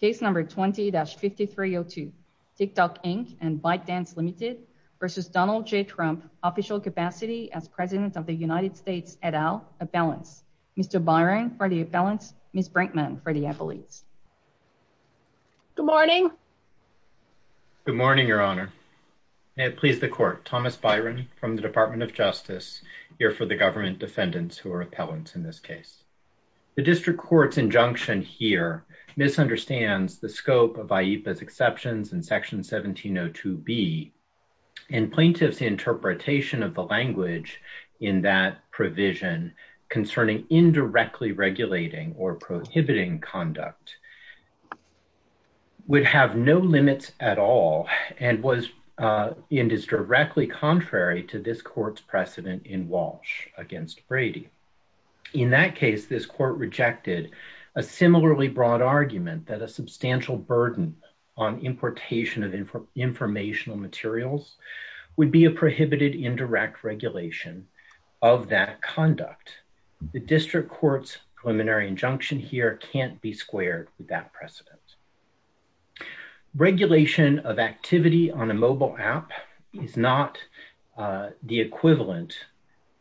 Case No. 20-5302, TikTok Inc. and ByteDance Ltd. v. Donald J. Trump, official capacity as President of the United States et al. appellant. Mr. Byron for the appellant, Ms. Brinkman for the appellate. Good morning. Good morning, Your Honor. May it please the Court, Thomas Byron from the Department of Justice, here for the government defendants who are appellants in this case. The district court's injunction here misunderstands the scope of AYIPA's exceptions in Section 1702B and plaintiff's interpretation of the language in that provision concerning indirectly regulating or prohibiting conduct would have no limits at all and is directly contrary to this court's Walsh v. Brady. In that case, this court rejected a similarly broad argument that a substantial burden on importation of informational materials would be a prohibited indirect regulation of that conduct. The district court's preliminary injunction here can't be squared with that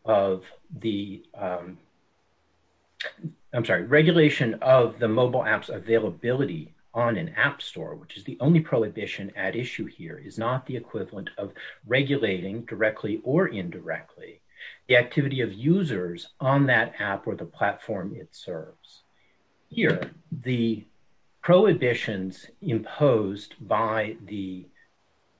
of the, I'm sorry, regulation of the mobile app's availability on an app store, which is the only prohibition at issue here, is not the equivalent of regulating directly or indirectly the activity of users on that app or the platform it serves. Here, the prohibitions imposed by the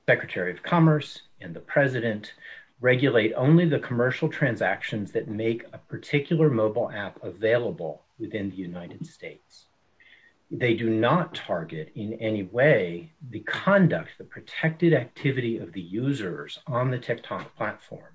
Secretary of Commerce and the President regulate only the commercial transactions that make a particular mobile app available within the United States. They do not target in any way the conduct, the protected activity of the users on the TikTok platform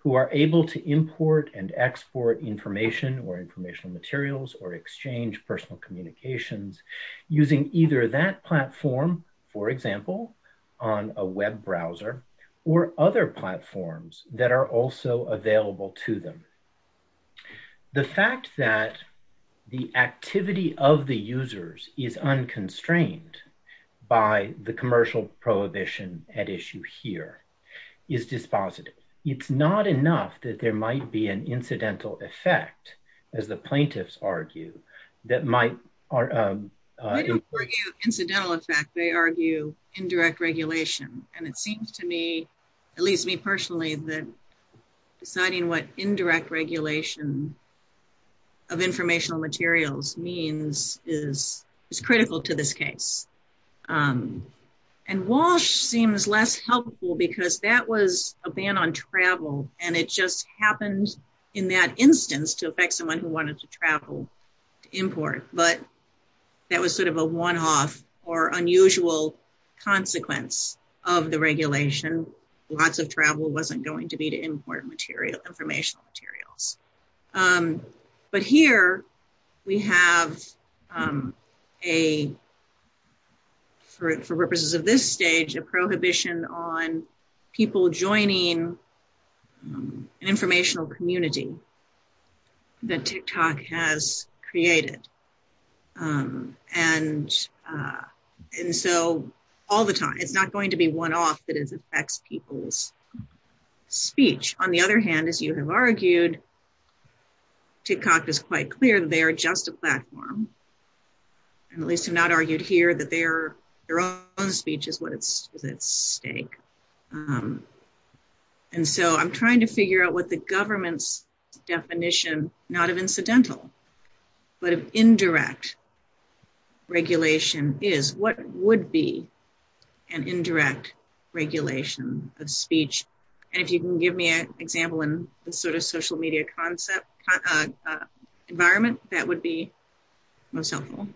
who are able to import and export information or informational materials or exchange personal communications using either that platform, for example, on a web browser or other platforms that are also available to them. The fact that the activity of the users is unconstrained by the commercial prohibition at issue here is dispositive. It's not enough that there might be an incidental effect, as the plaintiffs argue, that might... I don't argue incidental effect. They argue indirect regulation, and it seems to me, at least me personally, that deciding what indirect regulation of informational materials means is critical to this case. And WASH seems less helpful because that was a ban on travel, and it just happened in that instance to affect someone who wanted to travel to import, but that was sort of a one-off or unusual consequence of the regulation. Lots of travel wasn't going to be to import informational materials. But here, we have a, for purposes of this stage, a prohibition on people joining an informational community that TikTok has created. And so, all the time, it's not going to be one-off that it affects people's speech. On the other hand, as you have argued, TikTok is quite clear that they are just a platform, and at least have not argued here, that their own speech is at stake. And so, I'm trying to figure out what the government's definition, not of incidental, but of indirect regulation is. What would be an indirect regulation of speech? And if you can give me an example in the social media concept environment, that would be most helpful.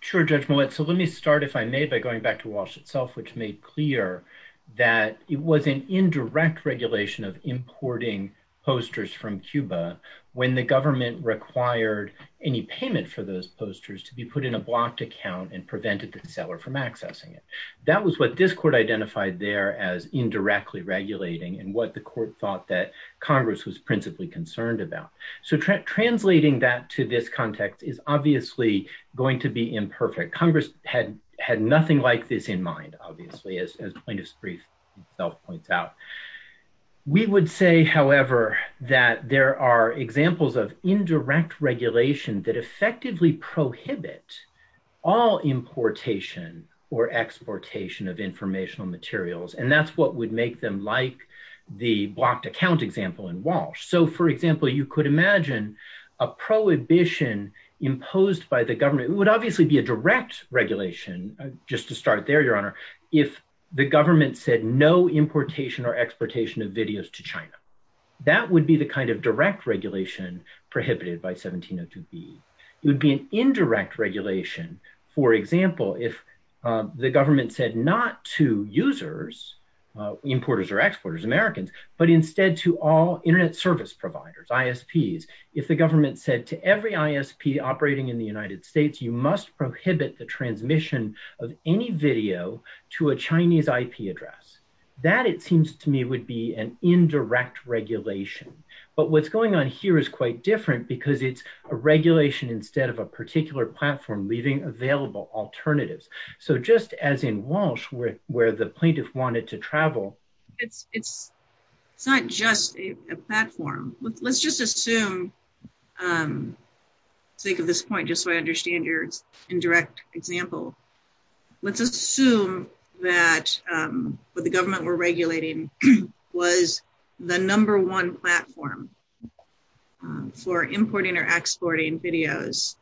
Sure, Judge Millett. So, let me start, if I may, by going back to WASH itself, which made clear that it was an indirect regulation of importing posters from Cuba when the government required any payment for those posters to be put in a blocked account and prevented the seller from accessing it. That was what this court identified there as concerned about. So, translating that to this context is obviously going to be imperfect. Congress had nothing like this in mind, obviously, as plaintiff's brief itself points out. We would say, however, that there are examples of indirect regulation that effectively prohibit all importation or exportation of informational materials, and that's what would make them like the blocked account example in WASH. So, for example, you could imagine a prohibition imposed by the government. It would obviously be a direct regulation, just to start there, Your Honor, if the government said no importation or exportation of videos to China. That would be the kind of direct regulation prohibited by 1702B. It would be an indirect regulation, for example, if the government said not to users, importers or exporters, Americans, but instead to all internet service providers, ISPs. If the government said to every ISP operating in the United States, you must prohibit the transmission of any video to a Chinese IP address. That, it seems to me, would be an indirect regulation. But what's going on here is quite different because it's a regulation instead of a particular platform leaving available alternatives. So, just as in WASH, where the plaintiff wanted to travel. It's not just a platform. Let's just assume, think of this point just so I understand your indirect example. Let's assume that what the government were regulating was the number one platform for importing or exporting videos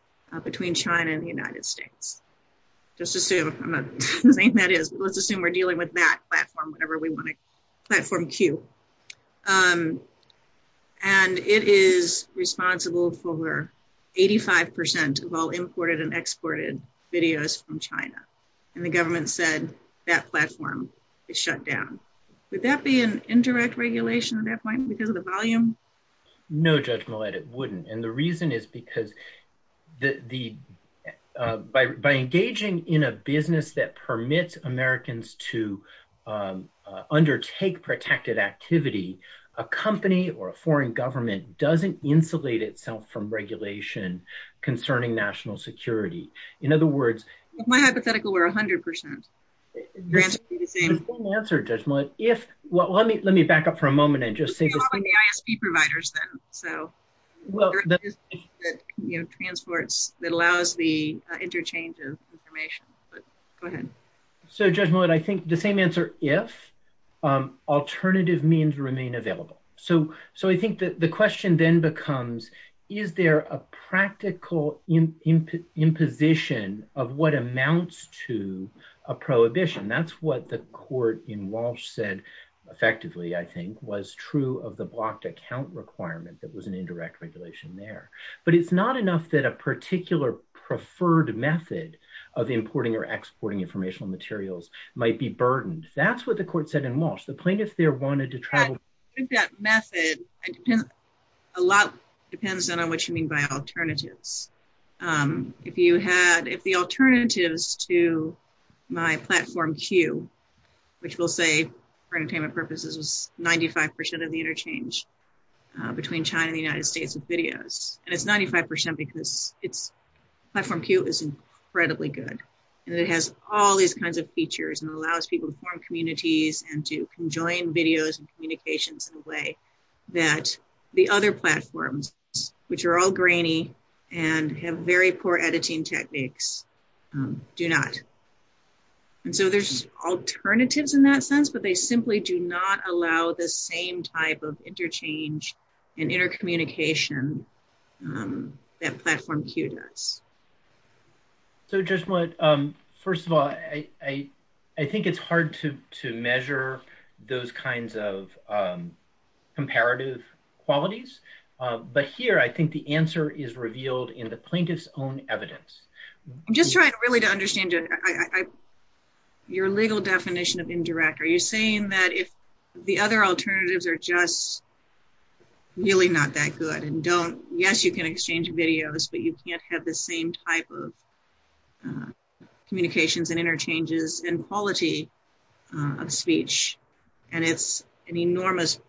between China and the United States. Let's assume we're dealing with that platform whenever we want to. Platform Q. And it is responsible for 85% of all imported and exported videos from China. And the government said that platform is shut down. Would that be an indirect regulation at that point because of the volume? No, Judge Millett, it wouldn't. And the reason is because the, by engaging in a business that permits Americans to undertake protected activity, a company or a foreign government doesn't insulate itself from regulation concerning national security. In other words... My hypothetical were 100%. That's an important answer, Judge Millett. If, well, let me back up for a moment and well, you know, transports that allows the interchange of information, but go ahead. So Judge Millett, I think the same answer, if alternative means remain available. So I think that the question then becomes, is there a practical imposition of what amounts to a prohibition? That's what the court in WASH said effectively, I think, was true of the blocked account requirement that was an indirect regulation there. But it's not enough that a particular preferred method of importing or exporting informational materials might be burdened. That's what the court said in WASH. The plaintiff there wanted to try... With that method, a lot depends on what you mean by alternatives. If you have, if the alternatives to my platform Q, which we'll say for entertainment purposes is 95% of the interchange between China and the United States of videos, and it's 95% because platform Q is incredibly good and it has all these kinds of features and allows people to form communities and to join videos and communications in a way that the other platforms, which are all grainy and have very poor editing techniques, do not. And so there's alternatives in that sense, but they simply do not allow the same type of interchange and intercommunication that platform Q does. So just one, first of all, I think it's hard to measure those kinds of comparative qualities, but here I think the answer is revealed in the plaintiff's own evidence. I'm just trying really to understand your legal definition of indirect. Are you saying that if the other alternatives are just really not that good and don't, yes, you can exchange videos, but you can't have the same type of communications and interchanges and quality of speech, and it's an enormous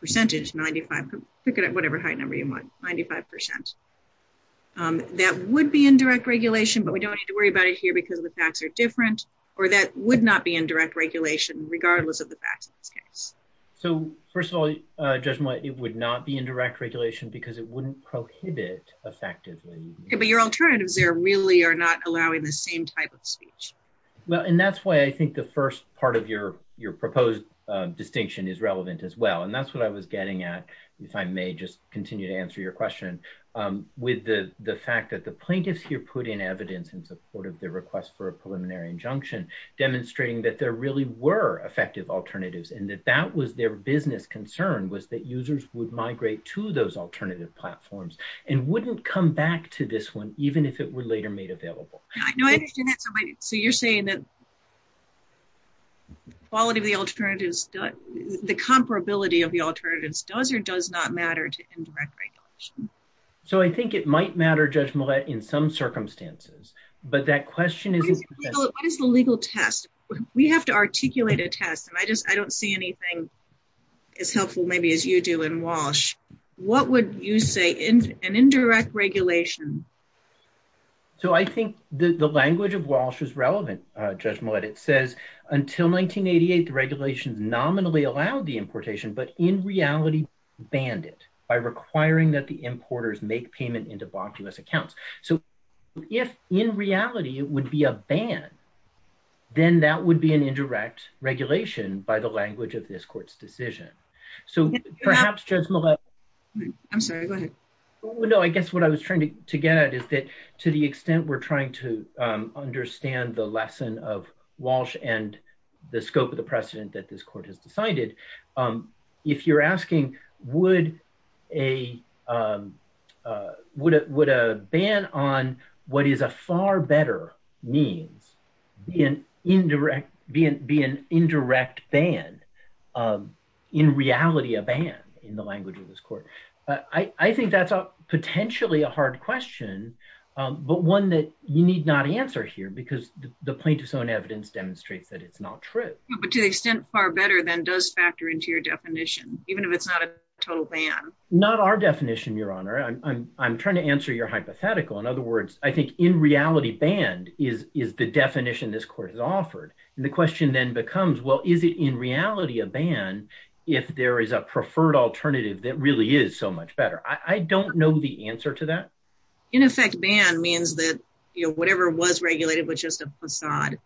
percentage, 95, pick it at whatever height number you want, 95%. That would be indirect regulation, but we don't have to worry about it here because the facts are different, or that would not be indirect regulation regardless of the facts. So first of all, Judge Moy, it would not be indirect regulation because it wouldn't prohibit effectively. But your alternatives there really are not allowing the same type of speech. Well, and that's why I think the first part of your proposed distinction is relevant as well, and that's what I was getting at, if I may just continue to answer your question. With the fact that the plaintiffs here put in evidence in support of their request for a preliminary injunction, demonstrating that there really were effective alternatives and that that was their business concern was that users would migrate to those alternative platforms and wouldn't come back to this one even if it were later made available. So you're saying that the comparability of the alternatives does or does not matter to indirect regulation? So I think it might matter, Judge Millett, in some circumstances, but that question is- What is the legal test? We have to articulate a test, and I just, I don't see anything as helpful maybe as you do in Walsh. What would you say in an indirect regulation? So I think the language of Walsh is relevant, Judge Millett. It says, until 1988, regulation nominally allowed the importation, but in reality banned it by requiring that the importers make payment in debauchous accounts. So if in reality it would be a ban, then that would be an indirect regulation by the language of this court's decision. So perhaps, Judge Millett- I'm sorry, go ahead. No, I guess what I was trying to get at is that to the extent we're the lesson of Walsh and the scope of the precedent that this court has decided, if you're asking would a ban on what is a far better means be an indirect ban, in reality a ban in the language of this court? I think that's potentially a hard question, but one that you need not answer here because the plaintiff's own evidence demonstrates that it's not true. But to an extent far better than does factor into your definition, even if it's not a total ban. Not our definition, Your Honor. I'm trying to answer your hypothetical. In other words, I think in reality banned is the definition this court has offered, and the question then becomes, well, is it in reality a ban if there is a preferred alternative that really is so much better? I don't know the answer to that. In effect, ban means that whatever was regulated was just a facade,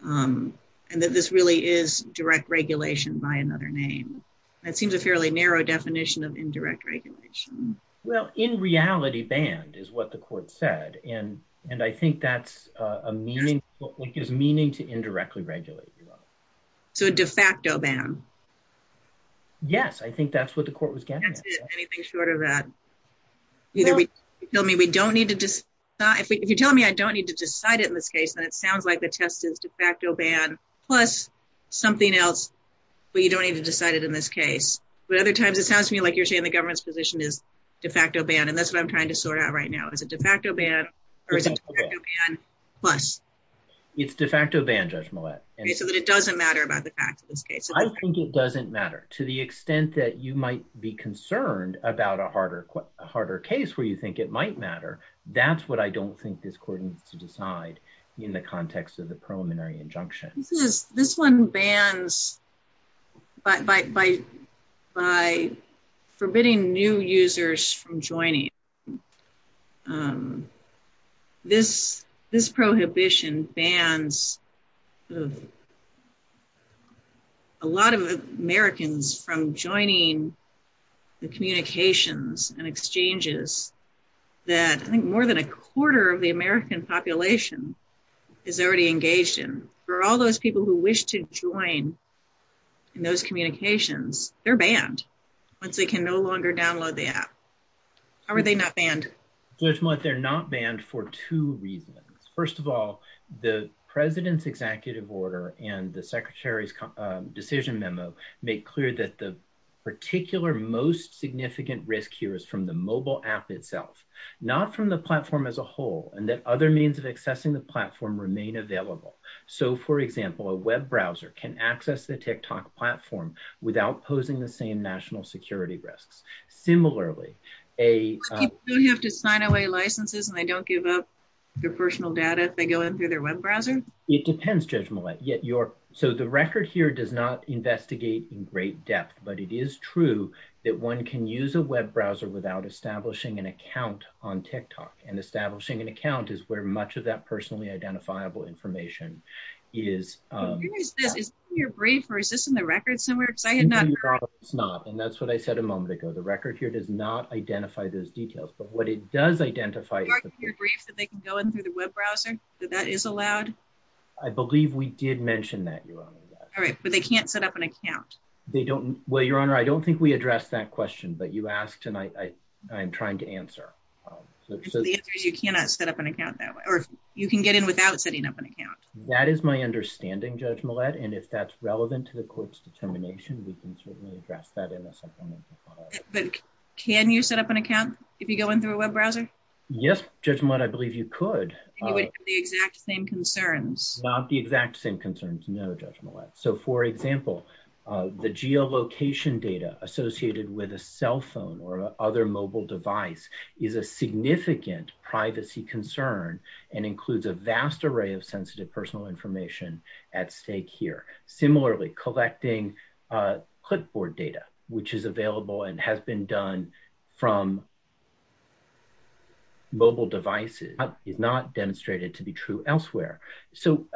and that this really is direct regulation by another name. That seems a fairly narrow definition of indirect regulation. Well, in reality banned is what the court said, and I think that's a meaning- it gives meaning to indirectly regulate, Your Honor. So a de facto ban. Yes, I think that's what the court was getting at. Anything short of that. You're telling me I don't need to decide it in this case, and it sounds like the test is de facto ban plus something else, but you don't need to decide it in this case. But other times it sounds to me like you're saying the government's position is de facto ban, and that's what I'm trying to sort out right now. Is it de facto ban, or is it de facto ban plus? It's de facto ban, Judge Millett. Okay, so it doesn't matter about the fact of this case. I think it doesn't matter. To the extent that you might be concerned about a harder case where you think it might matter, that's what I don't think this court needs to decide in the context of the preliminary injunction. This one bans by forbidding new users from joining. This prohibition bans a lot of Americans from joining the communications and exchanges that I think more than a quarter of in those communications. They're banned once they can no longer download the app. How are they not banned? Judge Millett, they're not banned for two reasons. First of all, the president's executive order and the secretary's decision memo make clear that the particular most significant risk here is from the mobile app itself, not from the platform as a whole, and that other means of accessing the platform remain available. So, for example, a web browser can access the TikTok platform without posing the same national security risks. Similarly, a- Do you have to sign away licenses and they don't give up their personal data if they go in through their web browser? It depends, Judge Millett. So, the record here does not investigate in great depth, but it is true that one can use a web browser without establishing an account on TikTok, and establishing an account is where much of that personally identifiable information is. Is this in your brief or is this in the record somewhere? No, it's not, and that's what I said a moment ago. The record here does not identify those details, but what it does identify- Is this in your brief that they can go in through the web browser, that that is allowed? I believe we did mention that, Your Honor. All right. So, they can't set up an account? They don't- Well, Your Honor, I don't think we addressed that question, but you asked and I'm trying to answer. You cannot set up an account that way, or you can get in without setting up an account? That is my understanding, Judge Millett, and if that's relevant to the court's determination, we can certainly address that in a supplement. But can you set up an account if you go in through a web browser? Yes, Judge Millett, I believe you could. And you would have the exact same concerns? Not the exact same concerns, no, Judge Millett. So, for example, the geolocation data associated with a cell phone or other mobile device is a vast array of sensitive personal information at stake here. Similarly, collecting clipboard data, which is available and has been done from mobile devices, is not demonstrated to be true elsewhere. So,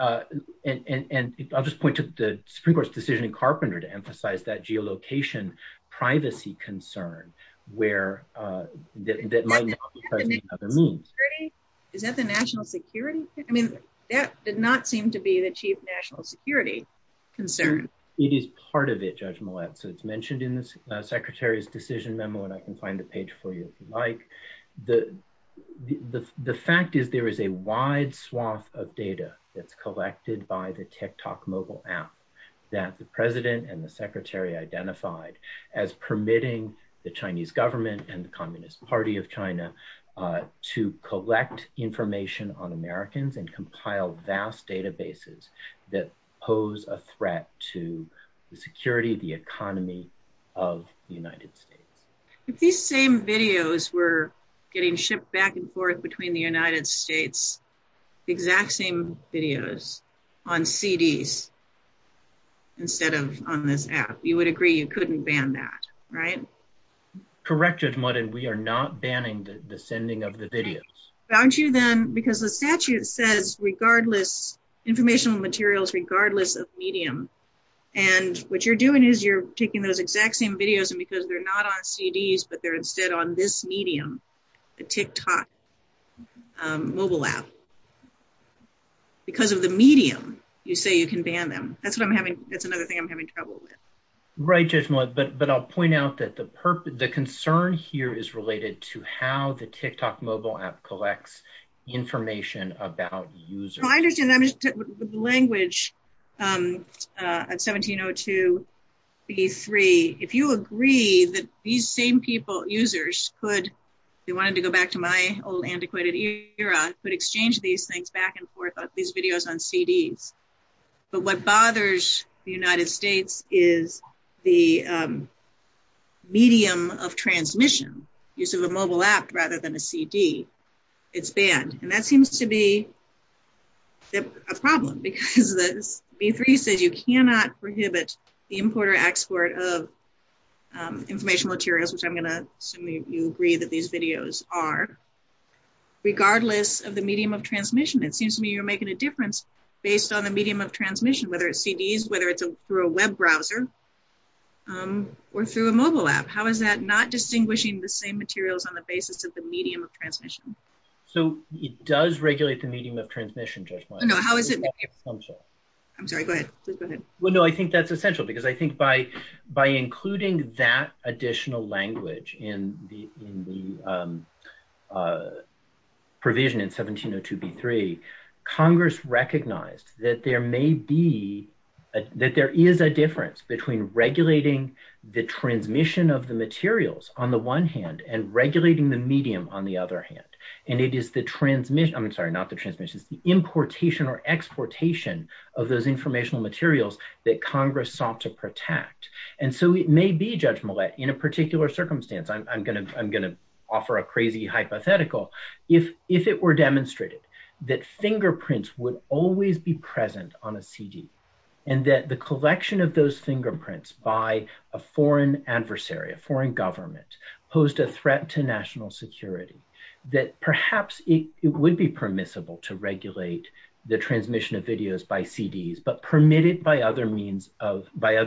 and I'll just point to the Supreme Court's decision in Carpenter to emphasize that geolocation privacy concern that might not be present in other means. Is that the national security? I mean, that did not seem to be the chief national security concern. It is part of it, Judge Millett. So, it's mentioned in the Secretary's decision memo, and I can find the page for you if you'd like. The fact is there is a wide swath of data that's permitting the Chinese government and the Communist Party of China to collect information on Americans and compile vast databases that pose a threat to the security of the economy of the United States. If these same videos were getting shipped back and forth between the United States, exact same videos on CDs instead of on this app, you would agree you can ban that, right? Correct, Judge Millett, we are not banning the sending of the videos. Aren't you then, because the statute says regardless, informational materials regardless of medium, and what you're doing is you're taking those exact same videos, and because they're not on CDs, but they're instead on this medium, the TikTok mobile app, because of the medium, you say you can ban them. That's what I'm having, that's another thing I'm having trouble with. Right, Judge Millett, but I'll point out that the concern here is related to how the TikTok mobile app collects information about users. The language at 1702b3, if you agree that these same people, users, could, if you wanted to go back to my old antiquated era, could exchange these things back and forth, these videos on CDs, but what bothers the United States is the medium of transmission, use of a mobile app rather than a CD, it's banned, and that seems to be a problem because the B3 says you cannot prohibit the import or export of informational materials, which I'm going to assume you agree that these videos are, regardless of the medium of transmission, it seems to me you're making a difference based on the medium of transmission, whether it's CDs, whether it's through a web browser, or through a mobile app. How is that not distinguishing the same materials on the basis of the medium of transmission? So it does regulate the medium of transmission, Judge Millett. I'm sorry, go ahead. Well, no, I think that's essential because I think by including that additional language in the provision in 1702b3, Congress recognized that there may be, that there is a difference between regulating the transmission of the materials on the one hand and regulating the medium on the other hand, and it is the transmission, I'm sorry, not the transmission, it's the importation or exportation of those informational materials that Congress sought to protect, and so it may be, Judge Millett, in a particular circumstance, I'm going to offer a crazy hypothetical, if it were demonstrated that fingerprints would always be present on a CD, and that the collection of those fingerprints by a foreign adversary, a foreign government, posed a threat to national security, that perhaps it would be permissible to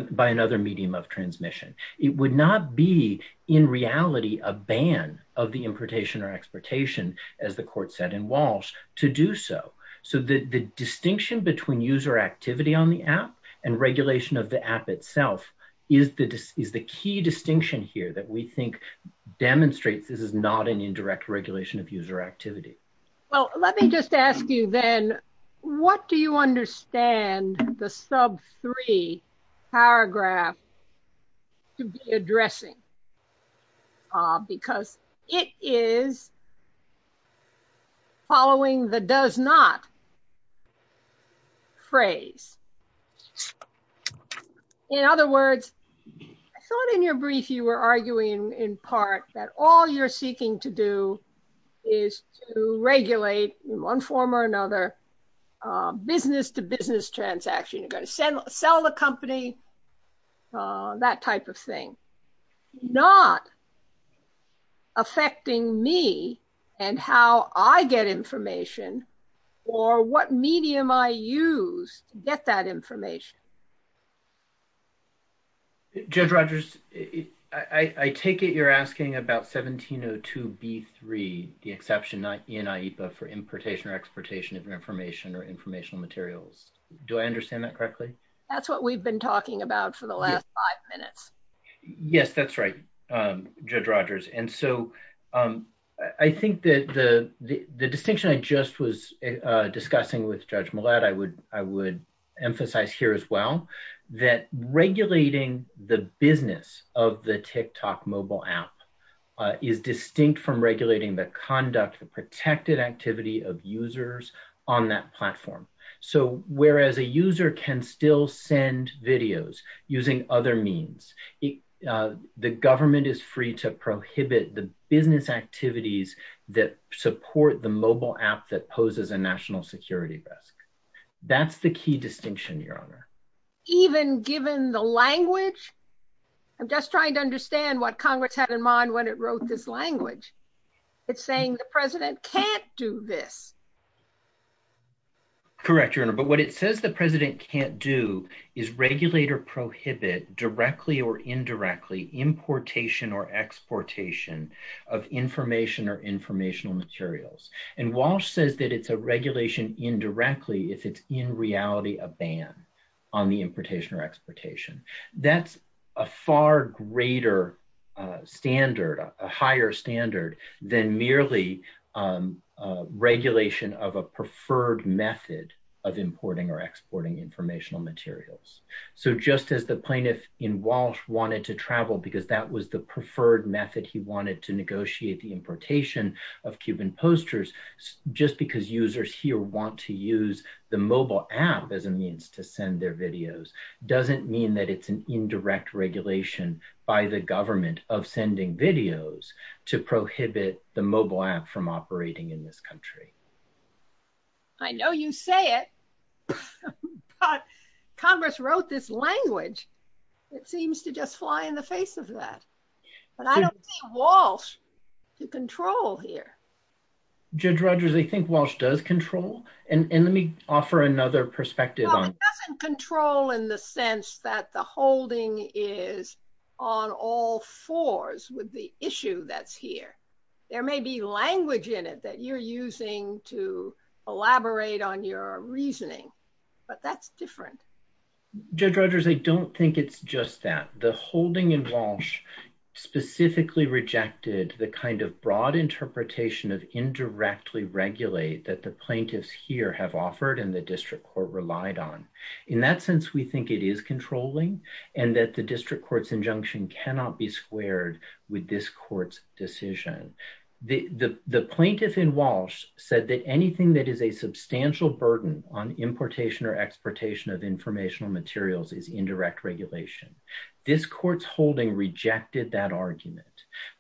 by another medium of transmission. It would not be, in reality, a ban of the importation or exportation, as the court said in Walsh, to do so. So the distinction between user activity on the app and regulation of the app itself is the key distinction here that we think demonstrates this is not an indirect regulation of user activity. Well, let me just ask you then, what do you understand the sub three paragraph addressing? Because it is following the does not phrase. In other words, I thought in your brief you were arguing in part that all you're seeking to do is to regulate in one form or another business-to-business transaction. You're going to sell a company, that type of thing, not affecting me and how I get information or what medium I use to get that information. Judge Rogers, I take it you're asking about 1702B3, the exception not in IHPA for importation or exportation of information or informational materials. Do I understand that correctly? That's what we've been talking about for the last five minutes. Yes, that's right, Judge Rogers. And so I think that the distinction I just was that regulating the business of the TikTok mobile app is distinct from regulating the conduct and protected activity of users on that platform. So whereas a user can still send videos using other means, the government is free to prohibit the business activities that support the mobile app that poses a national security risk. That's the key distinction, Your Honor. Even given the language, I'm just trying to understand what Congress had in mind when it wrote this language. It's saying the president can't do this. Correct, Your Honor. But what it says the president can't do is regulate or prohibit directly or indirectly importation or exportation of information or informational materials. And Walsh says that it's a regulation indirectly if it's in reality a ban on the importation or exportation. That's a far greater standard, a higher standard, than merely regulation of a preferred method of importing or exporting informational materials. So just as the plaintiff in Walsh wanted to travel because that was the preferred method he wanted to negotiate the importation of Cuban posters, just because users here want to use the mobile app as a means to send their videos doesn't mean that it's an indirect regulation by the government of sending videos to prohibit the mobile app from operating in this country. I know you say it, but Congress wrote this language that seems to just fly in the face of that. But I don't think Walsh can control here. Judge Rogers, I think Walsh does control. And let me offer another perspective on it. It doesn't control in the sense that the holding is on all fours with the issue that's here. There may be language in it that you're using to elaborate on your reasoning, but that's different. Judge Rogers, I don't think it's just that. The holding in Walsh specifically rejected the kind of broad interpretation of indirectly regulate that the plaintiffs here have offered and the district court relied on. In that sense, we think it is controlling and that the district court's injunction cannot be squared with this court's decision. The plaintiff in Walsh said that anything that is a substantial burden on importation or exportation of informational materials is indirect regulation. This court's holding rejected that argument.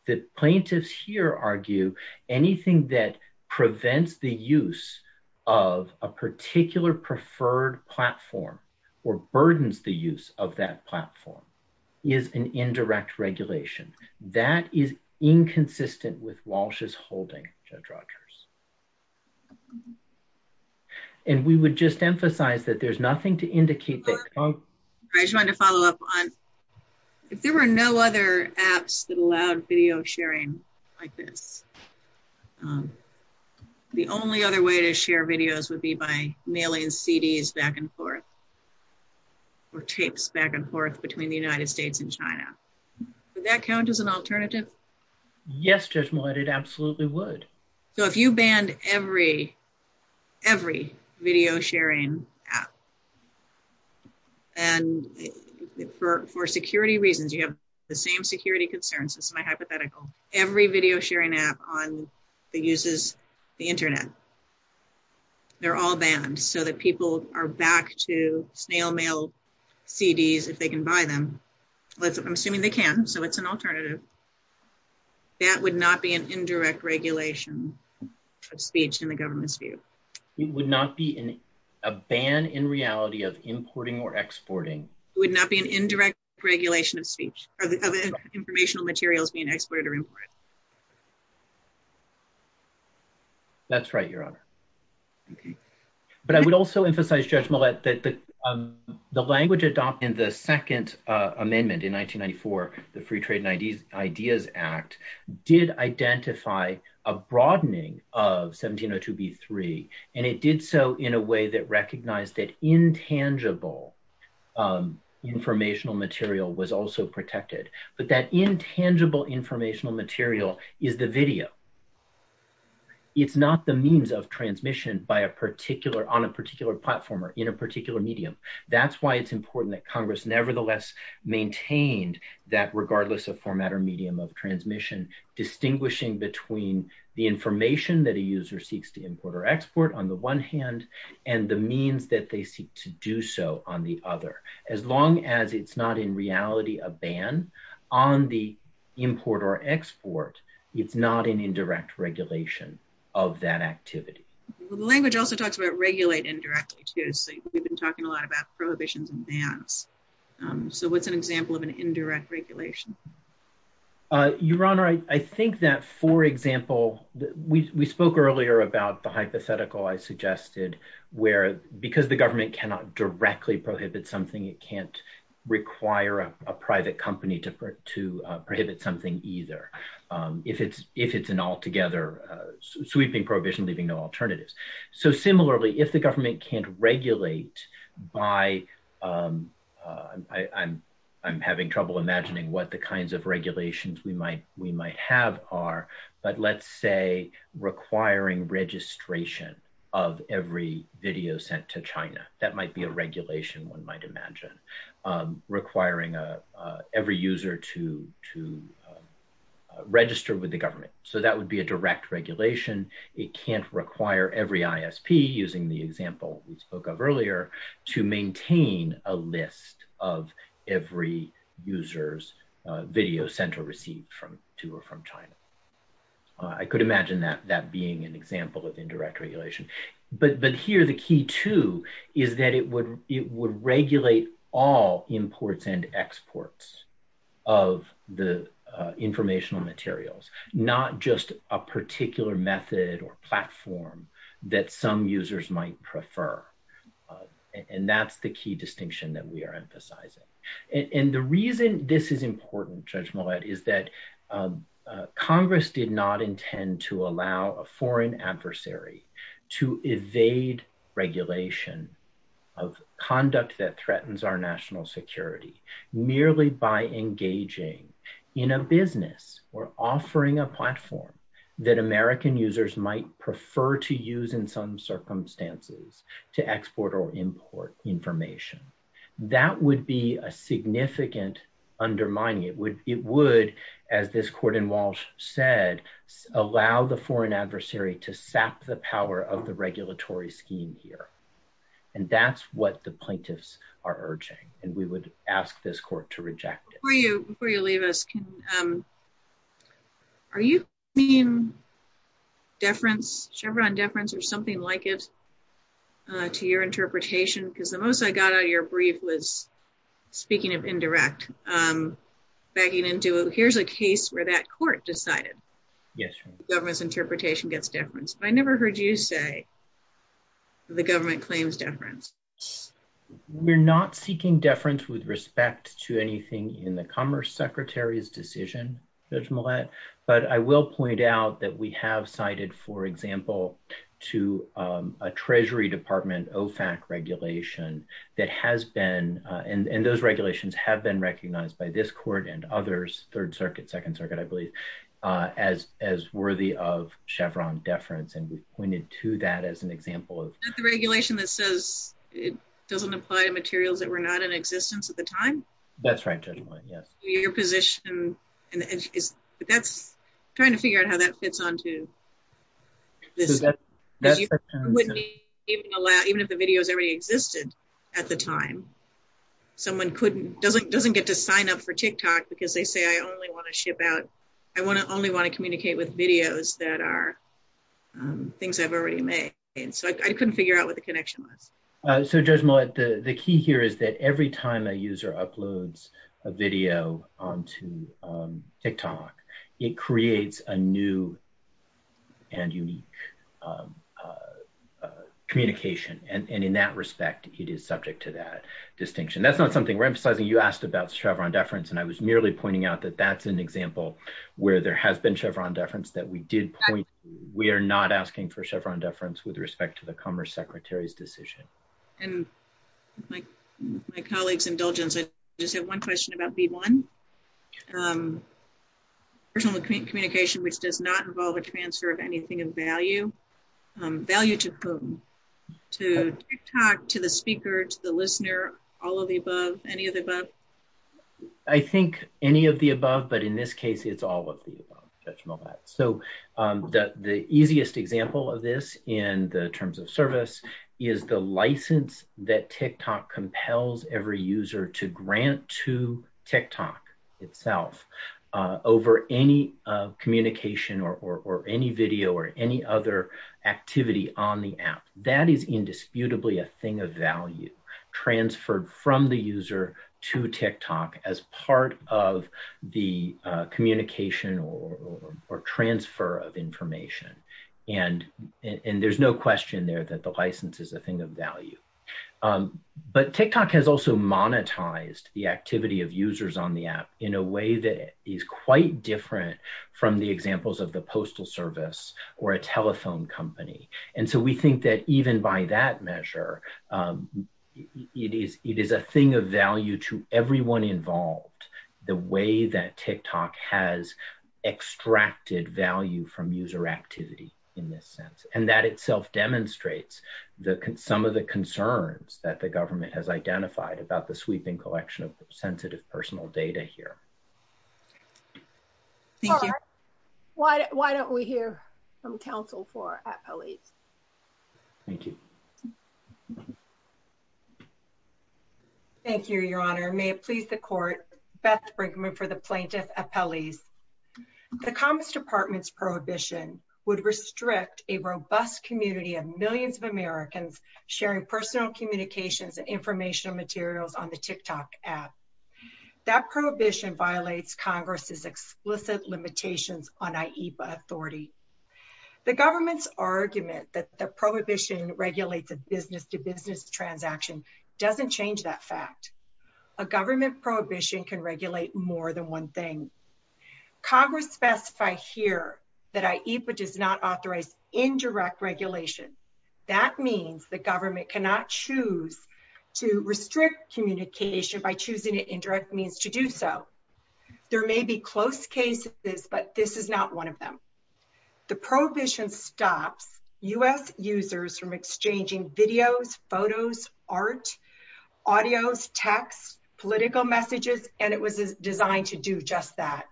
The plaintiffs here argue anything that prevents the use of a particular preferred platform or burdens the use of that platform is an indirect regulation. That is inconsistent with Walsh's holding, Judge Rogers. And we would just emphasize that there's nothing to indicate that's wrong. I just wanted to follow up on, if there were no other apps that allowed video sharing like this, the only other way to share videos would be by mailing CDs back and forth or tapes back and forth between the United States and China. Would that count as an alternative? Yes, Judge Millett, it absolutely would. So, if you banned every video sharing app, and for security reasons, you have the same security concerns, this is my hypothetical, every video sharing app that uses the internet, they're all banned so that people are back to snail mail CDs if they can buy them. I'm assuming they can, so it's an alternative. That would not be an indirect regulation of speech in the government's view. It would not be a ban in reality of importing or exporting. It would not be an indirect regulation of speech, of informational materials being exported or imported. That's right, Your Honor. But I would also emphasize, Judge Millett, that the language adopted in the second amendment in 1994, the Free Trade and Ideas Act, did identify a broadening of 1702b3, and it did so in a way that recognized that intangible informational material was also protected. But that intangible informational material is the video. It's not the means of transmission on a particular platform or in a particular medium. That's why it's important that Congress nevertheless maintained that regardless of format or medium of transmission, distinguishing between the information that a user seeks to import or export on the one hand, and the means that they seek to do so on the other. As long as it's not in reality a ban on the import or export, it's not an indirect regulation of that activity. The language also talks about regulate indirectly, too. We've been talking a lot about prohibitions and bans. So what's an example of an indirect regulation? Your Honor, I think that, for example, we spoke earlier about the hypothetical I suggested where because the government cannot directly prohibit something, it can't require a private company to prohibit something either if it's an altogether sweeping prohibition leaving no alternatives. So similarly, if the government can't regulate by – I'm having trouble imagining what the kinds of regulations we might have are, but let's say requiring registration of every video sent to China. That might be a regulation one might imagine requiring every user to register with government. So that would be a direct regulation. It can't require every ISP, using the example we spoke of earlier, to maintain a list of every user's video sent or received to or from China. I could imagine that being an example of indirect regulation. But here the key, too, is that it would regulate all imports and exports of the informational materials, not just a particular method or platform that some users might prefer. And that's the key distinction that we are emphasizing. And the reason this is important, Judge Millett, is that direct regulation of conduct that threatens our national security merely by engaging in a business or offering a platform that American users might prefer to use in some circumstances to export or import information. That would be a significant undermining. It would, as this And that's what the plaintiffs are urging, and we would ask this court to reject it. Before you leave us, are you bringing deference, Chevron deference, or something like it to your interpretation? Because the most I got out of your brief was, speaking of indirect, backing into, here's a case where that court decided government's interpretation gets deference. But I never heard you say the government claims deference. We're not seeking deference with respect to anything in the Commerce Secretary's decision, Judge Millett, but I will point out that we have cited, for example, to a Treasury Department OFAC regulation that has been, and those regulations have been recognized by this court and others, Third Circuit, Second Circuit, I believe, as worthy of Chevron deference, and we've pointed to that as an example of Is that the regulation that says it doesn't apply to materials that were not in existence at the time? That's right, Judge Millett, yes. Your position, and that's, I'm trying to figure out how that fits onto this. So that's, that's even if the videos already existed at the time, someone doesn't get to sign up for TikTok because they say, I only want to ship out, I only want to communicate with videos that are things I've already made. So I couldn't figure out what the connection was. So Judge Millett, the key here is that every time a user uploads a video onto TikTok, it creates a new and unique communication, and in that respect, it is subject to that distinction. That's not something we're emphasizing. You asked about Chevron deference, and I was merely pointing out that that's an example where there has been Chevron deference that we did point to. We are not asking for Chevron deference with respect to the Commerce Secretary's decision. And my colleague's indulgence, I just have one question about B1. Personal communication, which does not involve a transfer of anything of value, value to whom? To TikTok, to the speaker, to the listener, all of the above, any of the above? I think any of the above, but in this case, it's all of the above, Judge Millett. So the easiest example of this in the terms of service is the license that TikTok compels every user to grant to TikTok itself over any communication or any video or any other activity on the app. That is indisputably a thing of value, transferred from the user to TikTok as part of the communication or transfer of information. And there's no question there that the license is a thing of value. But TikTok has also monetized the activity of users on the app in a way that is quite different from the examples of the postal service or a telephone company. And so we think that even by that measure, it is a thing of value to everyone involved, the way that TikTok has monetized user activity in this sense. And that itself demonstrates some of the concerns that the government has identified about the sweeping collection of sensitive personal data here. Thank you. Why don't we hear from counsel for appellees? Thank you. Thank you, Your Honor. May it please the court, Beth Brinkman for the plaintiff appellees. The Commerce Department's prohibition would restrict a robust community of millions of Americans sharing personal communications and informational materials on the TikTok app. That prohibition violates Congress's explicit limitations on IEPA authority. The government's argument that the prohibition regulates a business-to-business transaction doesn't change that fact. A government prohibition can regulate more than one thing. Congress specifies here that IEPA does not authorize indirect regulation. That means the government cannot choose to restrict communication by choosing an indirect means to do so. There may be close cases, but this is not one of them. The prohibition stops U.S. users from exchanging videos, photos, art, audios, text, political messages, and it was designed to do just that.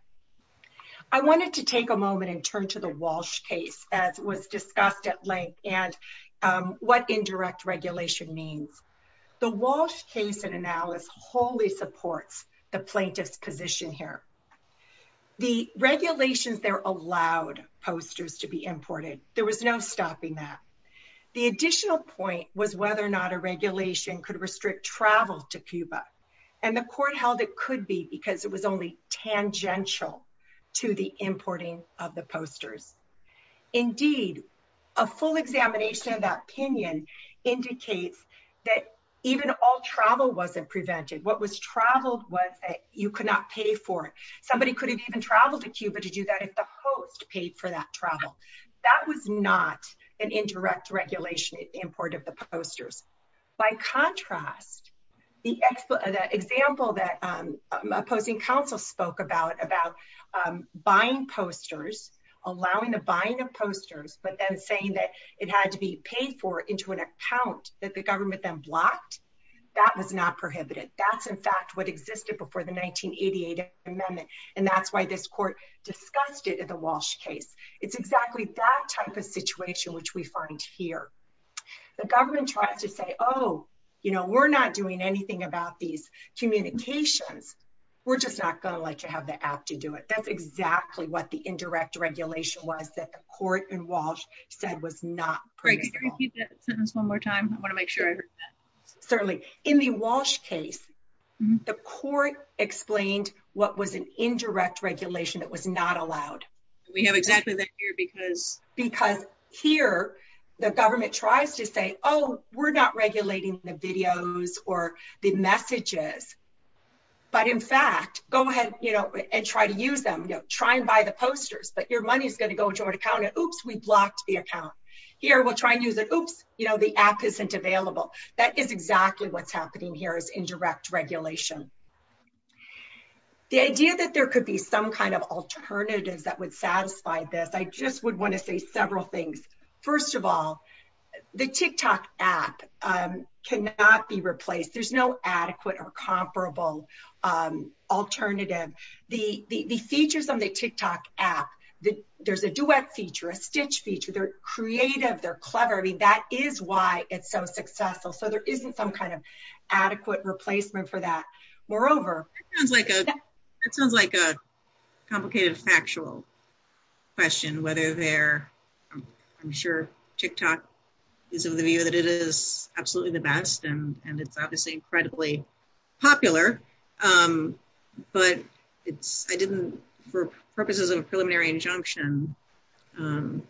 I wanted to take a moment and turn to the Walsh case that was discussed at length and what indirect regulation means. The Walsh case and analysis wholly supports the plaintiff's position here. The regulations there allowed posters to be imported. There was no stopping that. The additional point was whether or not a regulation could restrict travel to Cuba, and the court held it could be because it was only tangential to the importing of the posters. Indeed, a full examination of that opinion indicates that even all travel wasn't prevented. What was traveled was that you could not pay for it. Somebody could have even traveled to Cuba to do that if the host paid for that travel. That was not an indirect regulation import of the posters. By contrast, the example that opposing counsel spoke about, about buying posters, allowing the buying of posters, but then saying that it had to be paid for into an account that the government then blocked, that was not prohibited. That's, in fact, what existed before the 1988 amendment, and that's why this court discussed it at the Walsh case. It's exactly that type of situation which we find here. The government tried to say, oh, you know, we're not doing anything about these communications. We're just not going to let you have the app to do it. That's exactly what the indirect regulation was that the court in Walsh said was not critical. Can you repeat that sentence one more time? I want to make sure. Certainly. In the Walsh case, the court explained what was an indirect regulation that was not because here the government tries to say, oh, we're not regulating the videos or the messages, but in fact, go ahead, you know, and try to use them. You know, try and buy the posters, but your money is going to go into an account, and oops, we blocked the account. Here we'll try and use it. Oops, you know, the app isn't available. That is exactly what's happening here is indirect regulation. The idea that there could be some kind of alternative that would several things. First of all, the TikTok app cannot be replaced. There's no adequate or comparable alternative. The features on the TikTok app, there's a duet feature, a stitch feature. They're creative. They're clever. I mean, that is why it's so successful. So, there isn't some kind of adequate replacement for that. Moreover... It sounds like a complicated factual question whether they're... I'm sure TikTok is of the view that it is absolutely the best, and it's obviously incredibly popular, but it's... I didn't... For purposes of a preliminary injunction,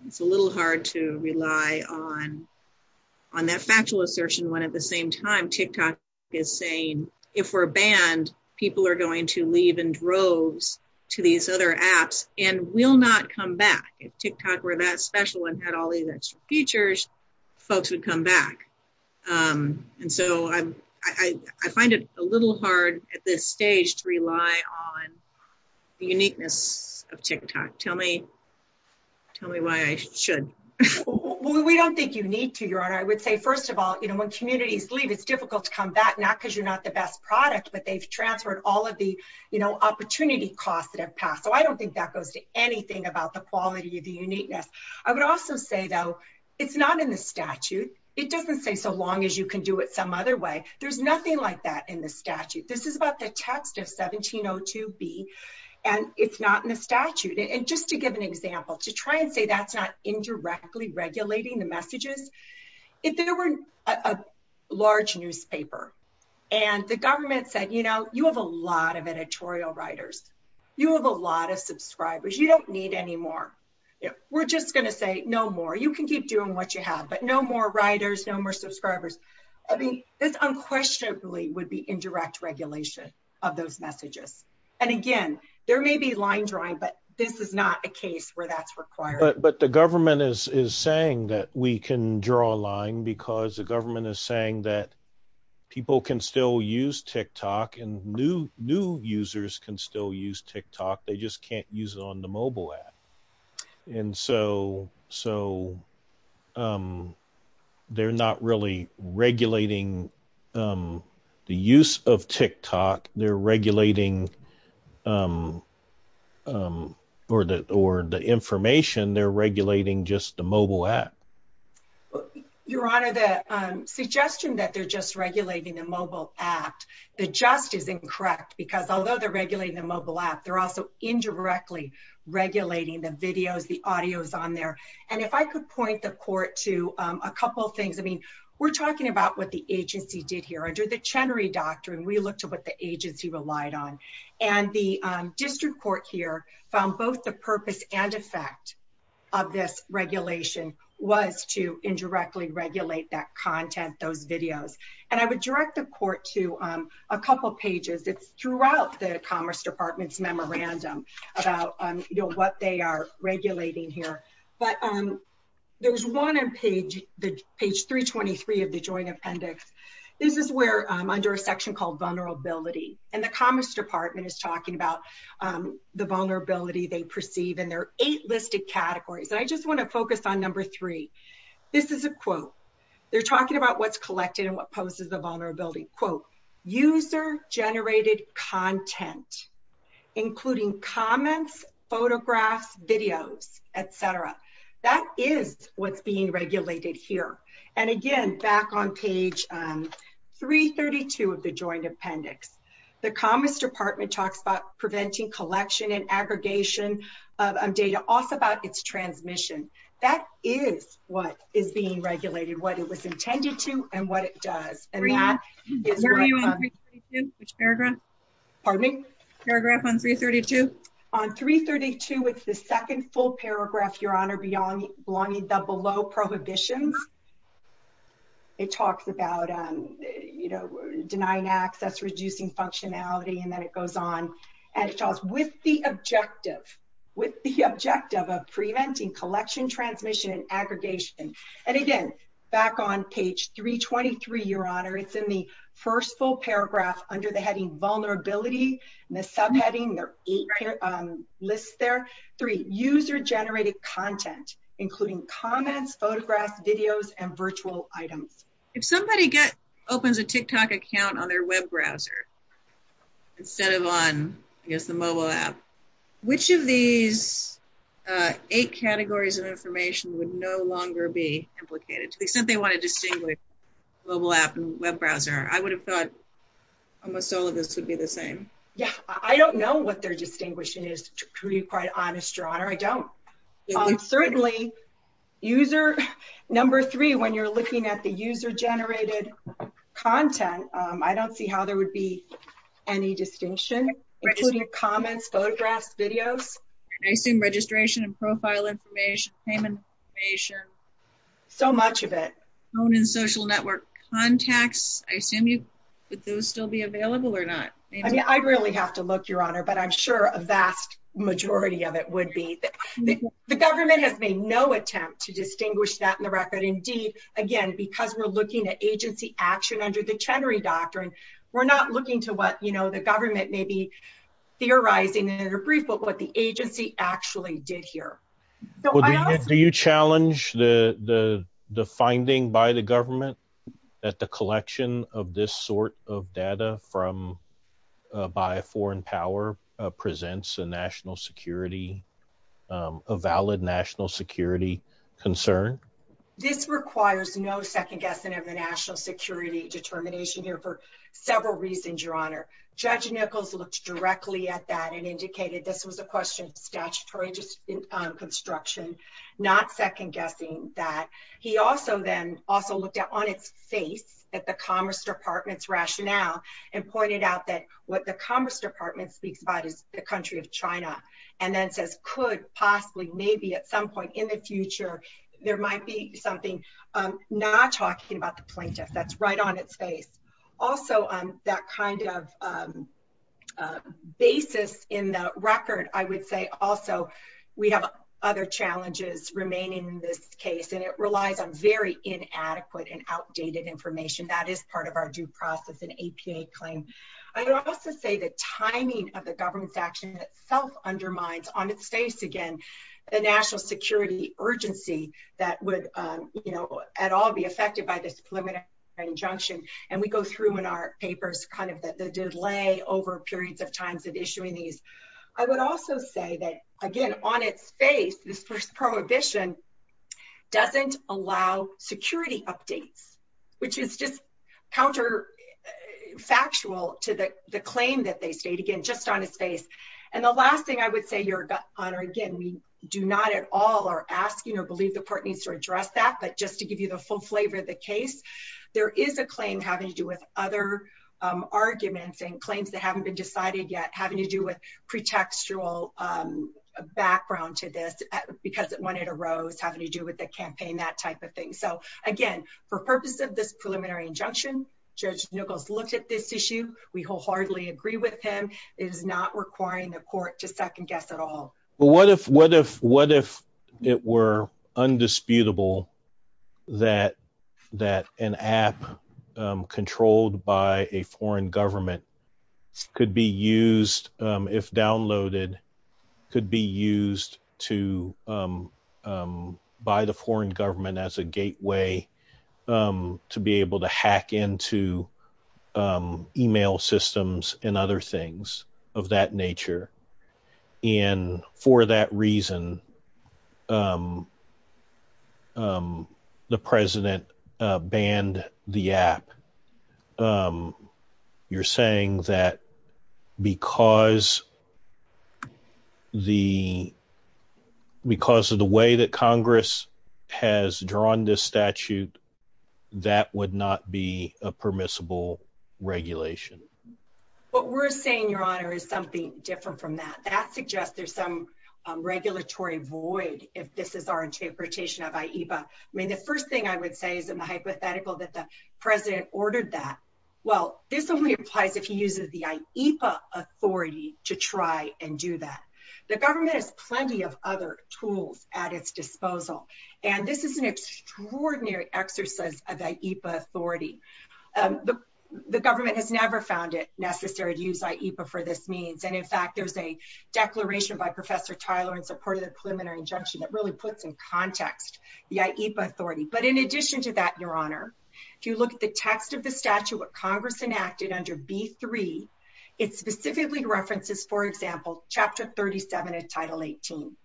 it's a little hard to rely on that factual assertion when at the same time TikTok is saying, if we're banned, people are going to leave in droves to these other apps and will not come back. If TikTok were that special and had all these extra features, folks would come back. And so, I find it a little hard at this stage to rely on the uniqueness of TikTok. Tell me why I should. Well, we don't think you need to, Your Honor. I would say, first of all, when communities leave, it's difficult to come back, not because you're not the best product, but they've transferred all of the opportunity costs that have passed. So, I don't think that goes to anything about the quality of the uniqueness. I would also say, though, it's not in the statute. It doesn't say so long as you can do it some other way. There's nothing like that in the statute. This is about the text of 1702B, and it's not in the statute. And just to give an example, if there were a large newspaper and the government said, you know, you have a lot of editorial writers, you have a lot of subscribers, you don't need any more. We're just going to say, no more. You can keep doing what you have, but no more writers, no more subscribers. I think this unquestionably would be indirect regulation of those messages. And again, there may be line drawing, but this is not a case where that's required. But the government is saying that we can draw a line because the government is saying that people can still use TikTok and new users can still use TikTok. They just can't use it on the mobile app. And so, they're not really regulating the use of TikTok. They're regulating or the information, they're regulating just the mobile app. Your Honor, the suggestion that they're just regulating the mobile app, the just is incorrect because although they're regulating the mobile app, they're also indirectly regulating the videos, the audios on there. And if I could point the court to a couple of things, I mean, we're talking about what the agency did here. Under the Chenery Doctrine, we looked at what agency relied on. And the district court here found both the purpose and effect of this regulation was to indirectly regulate that content, those videos. And I would direct the court to a couple of pages. It's throughout the Commerce Department's memorandum about what they are regulating here. But there's one on page 323 of the Joint Appendix. This is where, under a section called vulnerability, and the Commerce Department is talking about the vulnerability they perceive and there are eight listed categories. And I just want to focus on number three. This is a quote. They're talking about what's collected and what poses a vulnerability. Quote, user generated content, including comments, photographs, videos, etc. That is what's being regulated here. And again, back on page 332 of the Joint Appendix. The Commerce Department talks about preventing collection and aggregation of data, also about its transmission. That is what is being regulated, what it was intended to and what it does. Pardon me? Paragraph on 332. On 332, it's the second full paragraph, Your Honor, belonging to the below prohibition. It talks about denying access, reducing functionality, and then it goes on. And it talks with the objective, with the objective of preventing collection, transmission, and aggregation. And again, back on page 323, Your Honor, it's in the first full paragraph under the heading vulnerability. And the subheading, there are eight lists there. Three, user generated content, including comments, photographs, videos, and virtual items. If somebody opens a TikTok account on their web browser instead of on, I guess, the mobile app, which of these eight categories of information would no longer be implicated? If we simply want to distinguish mobile app and web browser, I would have thought almost all of this would be the same. Yeah, I don't know what they're distinguishing is, to be quite honest, Your Honor. I don't. Certainly, user, number three, when you're looking at the user generated content, I don't see how there would be any distinction, including comments, photographs, videos. I've seen registration and profile information, payment information. So much of it. Phone and social network contacts. I assume, would those still be available or not? I rarely have to look, Your Honor, but I'm sure a vast majority of it would be. The government has made no attempt to distinguish that in the record. Indeed, again, because we're looking at agency action under the Chenery Doctrine, we're not looking to what the government may be theorizing in a brief, but what the agency actually did here. Do you challenge the finding by the government that the collection of this sort of data by a foreign power presents a national security, a valid national security concern? This requires no second guessing of a national security determination here for several reasons, Your Honor. Judge Nichols looked directly at that and indicated this was a question of statutory construction, not second guessing that. He also then also looked at, on its face, at the Commerce Department's rationale and pointed out that what the Commerce Department speaks about is the country of China, and then says, could, possibly, maybe at some point in the future, there might be something not talking about the plaintiff. That's right on its face. Also, that kind of basis in the record, I would say, also, we have other challenges remaining in this case, and it relies on very inadequate and outdated information. That is part of our due process and APA claim. I would also say the timing of the government's action itself undermines, on its face, again, the national security urgency that would, you know, at all be affected by this preliminary injunction, and we go through in our papers, kind of, the delay over periods of times of issuing these. I would also say that, again, on its face, this prohibition doesn't allow security updates, which is just counterfactual to the claim that they state, again, just on its face. And the last thing I would say, Your Honor, again, we do not at all are asking or believe the court needs to address that, but just to give you the full flavor of the case, there is a claim having to do with other arguments and claims haven't been decided yet, having to do with pretextual background to this, because it wanted a rose, having to do with the campaign, that type of thing. So, again, for purpose of this preliminary injunction, Judge Nichols looked at this issue. We wholeheartedly agree with him. It is not requiring the court to second guess at all. What if it were undisputable that an app controlled by a foreign government could be used, if downloaded, could be used by the foreign government as a gateway to be able to hack into email systems and other things of that nature? And for that reason, the President banned the app. You're saying that because of the way that Congress has drawn this statute, that would not be a permissible regulation? What we're saying, Your Honor, is something different from that. That suggests there's some regulatory void, if this is our interpretation of IEPA. I mean, the first thing I would say is in the hypothetical that the President ordered that, well, this is a weird type if he uses the IEPA authority to try and do that. The government has plenty of other tools at its disposal. And this is an extraordinary exercise of IEPA authority. The government has never found it necessary to use IEPA for this means. And in fact, there's a declaration by Professor Tyler in support of the preliminary injunction that really puts in context the IEPA authority. But in addition to that, Your Honor, if you look at the text of the statute that Congress enacted under B-3, it specifically references, for example, Chapter 37 of Title 18.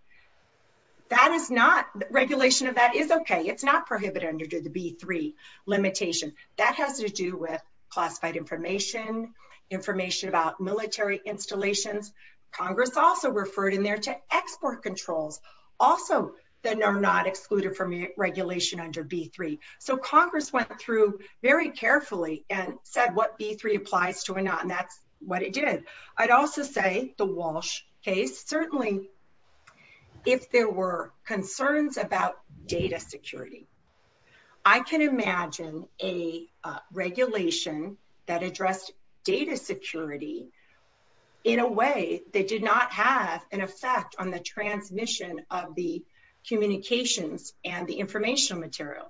That is not, regulation of that is okay. It's not prohibited under the B-3 limitation. That has to do with classified information, information about military installations. Congress also referred in there to export controls, also that are not excluded from regulation under B-3. So Congress went through very carefully and said what B-3 applies to and that's what it did. I'd also say the Walsh case, certainly if there were concerns about data security, I can imagine a regulation that addressed data security in a way that did not have an effect on the transmission of the communications and the informational material.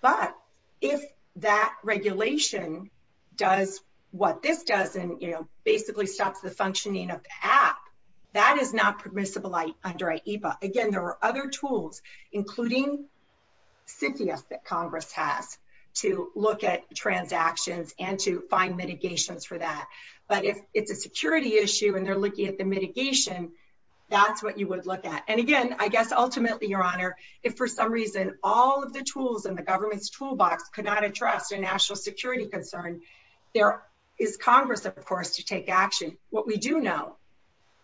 But if that regulation does what this does and, you know, basically stops the functioning of the app, that is not permissible under IEPA. Again, there are other tools, including CPS that Congress has to look at transactions and to find mitigations for that. But if it's a security issue and they're looking at the mitigation, that's what you would look at. And again, I guess ultimately, Your Honor, if for some reason all of the tools in the government's toolbox could not address a national security concern, there is Congress, of course, to take action. What we do know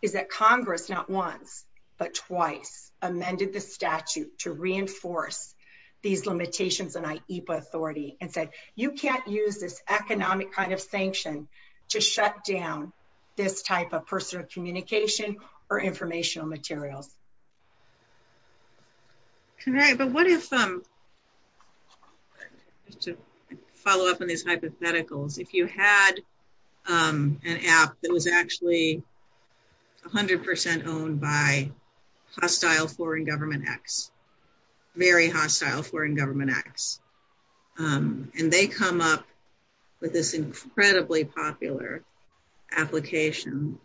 is that Congress, not once but twice, amended the statute to reinforce these limitations in IEPA authority and said you can't use this economic kind of sanction to shut down this type of personal communication or informational material. All right, but what if, to follow up on this hypothetical, if you had an app that was actually 100% owned by hostile foreign government acts, very hostile foreign government acts, and they come up with this incredibly popular application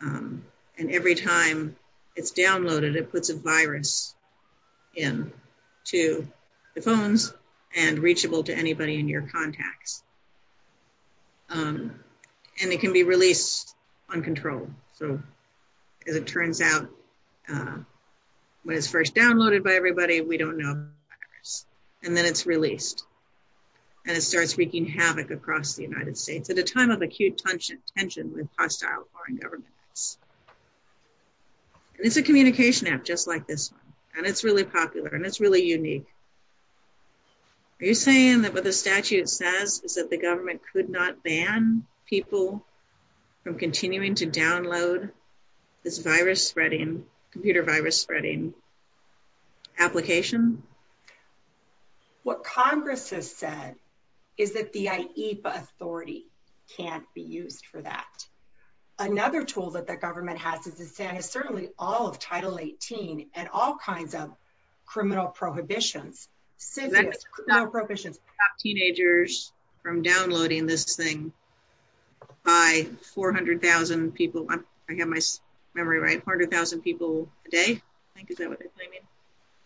and every time it's downloaded, it puts a virus in to the phones and reachable to anybody in your contacts. And it can be released uncontrolled. So as it turns out, when it's first downloaded, we don't know. And then it's released. And it starts wreaking havoc across the United States at a time of acute tension with hostile foreign government. And it's a communication app just like this one. And it's really popular and it's really unique. Are you saying that what the statute says is that the government could not ban people from continuing to download this virus spreading, computer virus spreading application? What Congress has said is that the IEPA authority can't be used for that. Another tool that the government has is to ban certainly all of Title 18 and all kinds of criminal prohibitions. Stop teenagers from downloading this thing by 400,000 people. I have my memory right, 100,000 people a day. Is that what they're saying?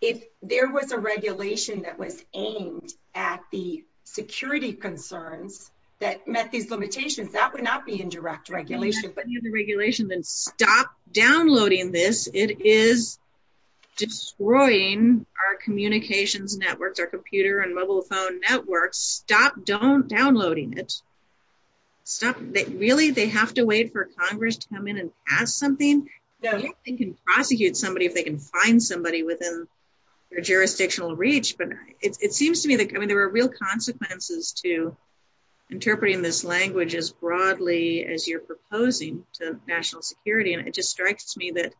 If there was a regulation that was aimed at the security concerns that met these limitations, that would not be indirect regulation. Then stop downloading this. It is destroying our communications networks, our computer and mobile phone networks. Stop downloading it. Really, they have to wait for Congress to come in and ask something? They can prosecute somebody if they can find somebody within their jurisdictional reach. But it seems to me that there are real consequences to interpreting this language as you're proposing to national security. It just strikes me that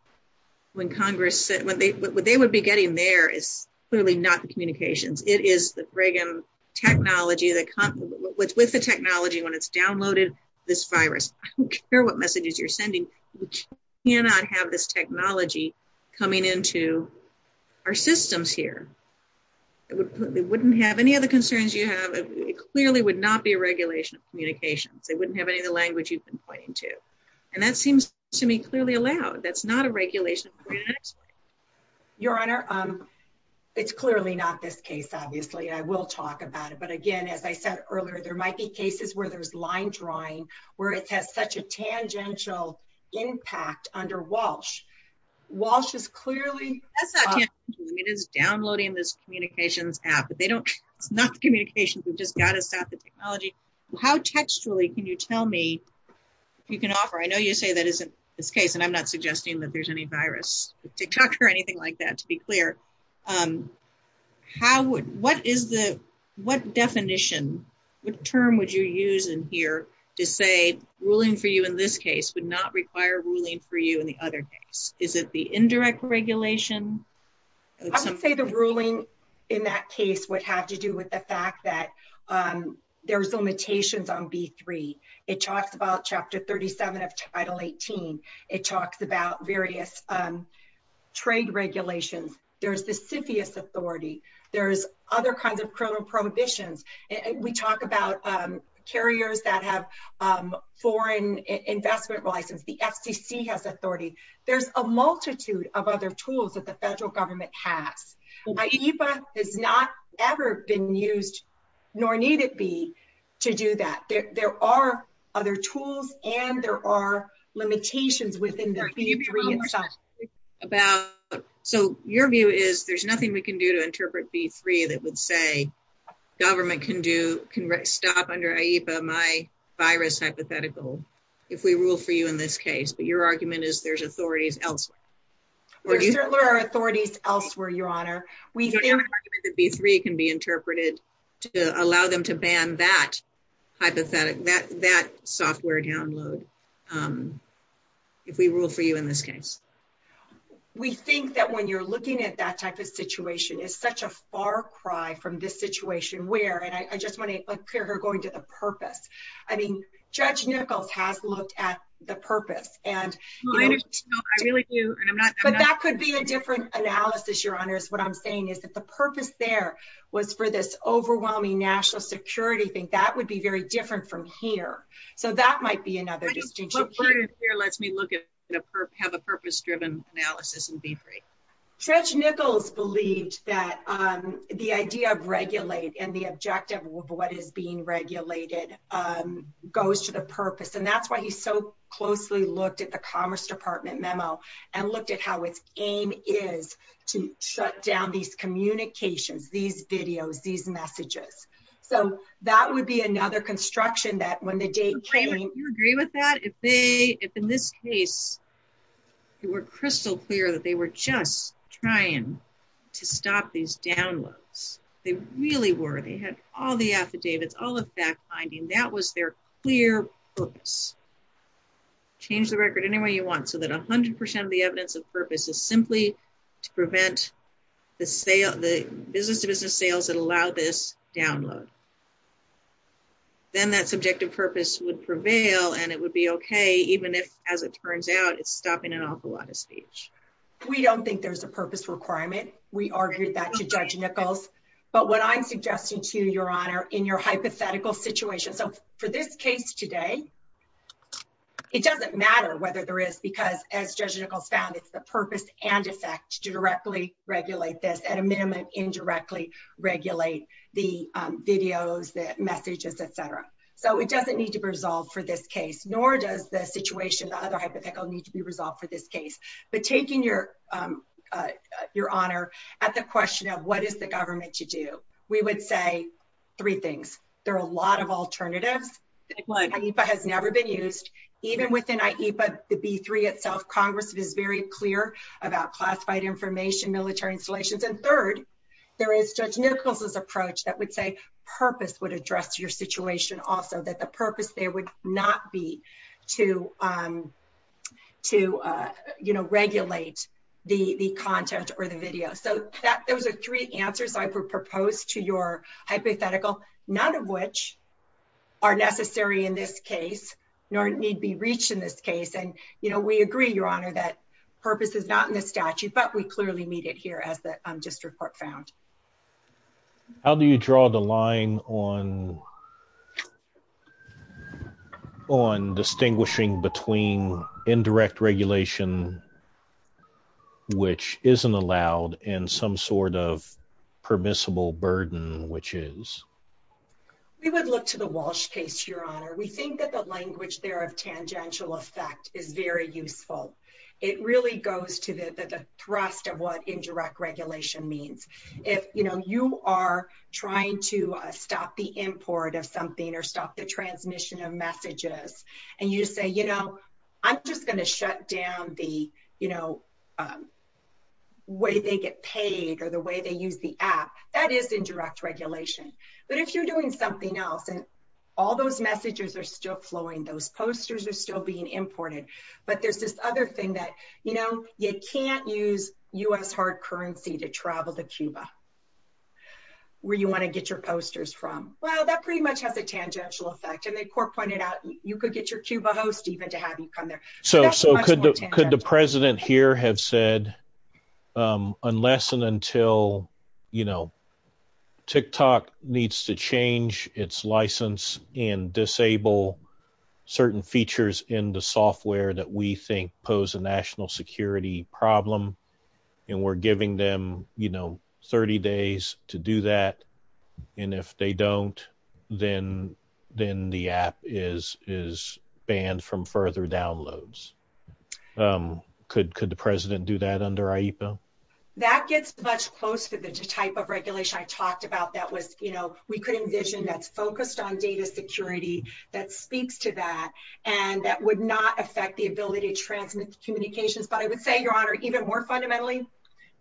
what they would be getting there is clearly not the communications. It is the technology that comes with the technology when it's downloaded, this virus. I don't care what messages you're sending. We cannot have this technology coming into our systems here. It wouldn't have any of the concerns you have. It clearly would not be a regulation of communications. They wouldn't have any language you've been pointing to. That seems to me clearly allowed. That's not a regulation. Your Honor, it's clearly not this case, obviously. I will talk about it. But again, as I said earlier, there might be cases where there's line drawing, where it has such a tangential impact under Walsh. Walsh is clearly downloading this communications app, but they don't not communications. They've just got to stop the technology. How textually can you tell me you can offer? I know you say that isn't this case, and I'm not suggesting that there's any virus detector or anything like that, to be clear. What definition, what term would you use in here to say ruling for you in this case would not require ruling for you in the other cases? Is it the indirect regulation? I would say the ruling in that case would have to do with the fact that there's limitations on B3. It talks about Chapter 37 of Title 18. It talks about various trade regulations. There's the CFIUS authority. There's other kinds of criminal prohibitions. We talk about carriers that have foreign investment license. The FCC has authority. There's a multitude of other tools that the federal government has. AEPA has not ever been used, nor need it be, to do that. There are other tools, and there are limitations within the B3. So your view is there's nothing we can do to interpret B3 that would say government can stop under AEPA my virus hypothetical, if we rule for you in this case. But your argument is there's authorities elsewhere. There are authorities elsewhere, Your Honor. We think that B3 can be interpreted to allow them to ban that hypothetical, that software download, if we rule for you in this case. We think that when you're looking at that type of situation, it's such a far cry from this situation where, and I just want to And that could be a different analysis, Your Honor, is what I'm saying is that the purpose there was for this overwhelming national security thing. That would be very different from here. So that might be another distinction. But it lets me look at, have a purpose-driven analysis in B3. Judge Nichols believed that the idea of regulate and the objective of what is being regulated goes to the purpose. And that's why he so closely looked at the Commerce Department memo and looked at how its aim is to shut down these communications, these videos, these messages. So that would be another construction that when the date came Do you agree with that? If in this case, it were crystal clear that they were just trying to stop these downloads. They really were. They had all the affidavits, all the fact-finding. That was their clear purpose. Change the record any way you want so that 100% of the evidence of purpose is simply to prevent the business-to-business sales that allow this download. Then that subjective purpose would prevail and it would be okay, even if, as it turns out, it's stopping an awful lot of speech. We don't think there's a purpose requirement. We argued that to Judge Nichols. But what I'm suggesting to you, Your Honor, in your hypothetical situation. So for this case today, it doesn't matter whether there is because, as Judge Nichols found, it's the purpose and effect to directly regulate this, at a minimum, indirectly regulate the videos, the messages, etc. So it doesn't need to resolve for this case, nor does the situation, the other hypothetical need to be resolved for this case. But taking, Your Honor, at the question of what is the government to do, we would say three things. There are a lot of alternatives. IEFA has never been used. Even within IEFA, the B3 itself, Congress is very clear about classified information, military installations. And third, there is Judge Nichols' approach that would say purpose would address your situation also, that the purpose there would not be to regulate the content or the video. So those are three answers I would propose to your hypothetical, none of which are necessary in this case, nor need be reached in this case. And we agree, Your Honor, that purpose is not in the statute, but we clearly need it here as the district court found. How do you draw the line on distinguishing between indirect regulation, which isn't allowed, and some sort of permissible burden, which is? We would look to the Walsh case, Your Honor. We think that the language there of tangential effect is very useful. It really goes to the thrust of what indirect regulation means. You are trying to stop the import of something or stop the transmission of messages, and you say, I'm just going to shut down the way they get paid or the way they use the app. That is indirect regulation. But if you're doing something else and all those messages are still flowing, those posters are still being imported, but there's this other thing that you can't use U.S. hard currency to travel to Cuba where you want to get your posters from. Well, that pretty much has a tangential effect, and the court pointed out you could get your Cuba host even to have you come there. So could the president here have said, unless and until, you know, TikTok needs to change its license and disable certain features in the software that we were giving them, you know, 30 days to do that, and if they don't, then the app is banned from further downloads. Could the president do that under AIPA? That gets much closer to the type of regulation I talked about that was, you know, we could envision that focused on data security that speaks to that and that would not affect the ability to transmit communications. But I would say, Your Honor, even more fundamentally,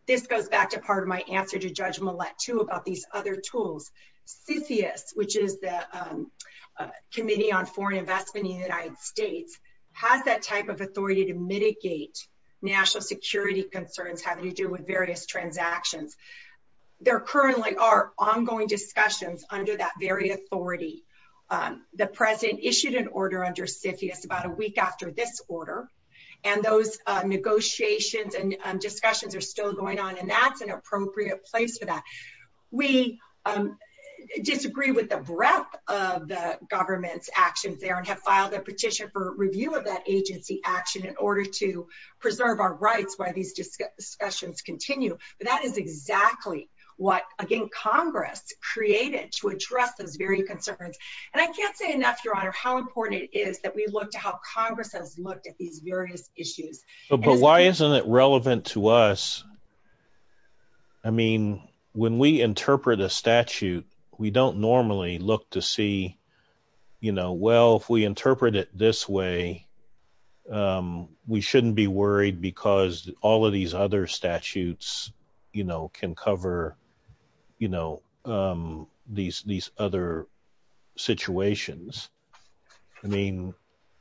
this goes back to part of my answer to Judge Millett, too, about these other tools. CISIUS, which is the Committee on Foreign Investment in the United States, has that type of authority to mitigate national security concerns having to do with various transactions. There currently are ongoing discussions under that very authority. The president issued an order under CISIUS about a week after this order, and those negotiations and discussions are still going on, and that's an appropriate place for that. We disagree with the breadth of the government's actions there and have filed a petition for review of that agency action in order to preserve our rights while these discussions continue, but that is exactly what, again, Congress created to address those very concerns. And I can't say enough, Your Honor, how important it is that we look to how Congress has looked at these various issues. But why isn't it relevant to us? I mean, when we interpret a statute, we don't normally look to see, you know, well, if we interpret it this way, we shouldn't be worried because all of these other you know, these other situations. I mean,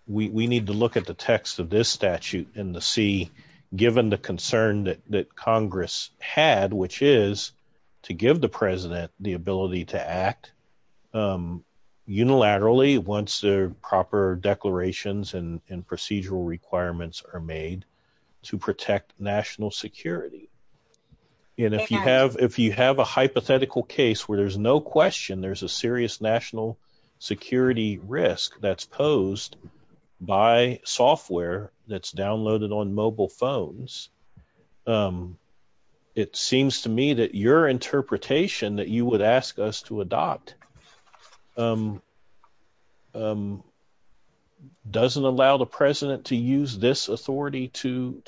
we need to look at the text of this statute in the C, given the concern that Congress had, which is to give the president the ability to act unilaterally once the proper declarations and procedural requirements are made to protect national security. And if you have if you have a hypothetical case where there's no question there's a serious national security risk that's posed by software that's downloaded on mobile phones, it seems to me that your interpretation that you would ask us to adopt doesn't allow the president to use this authority to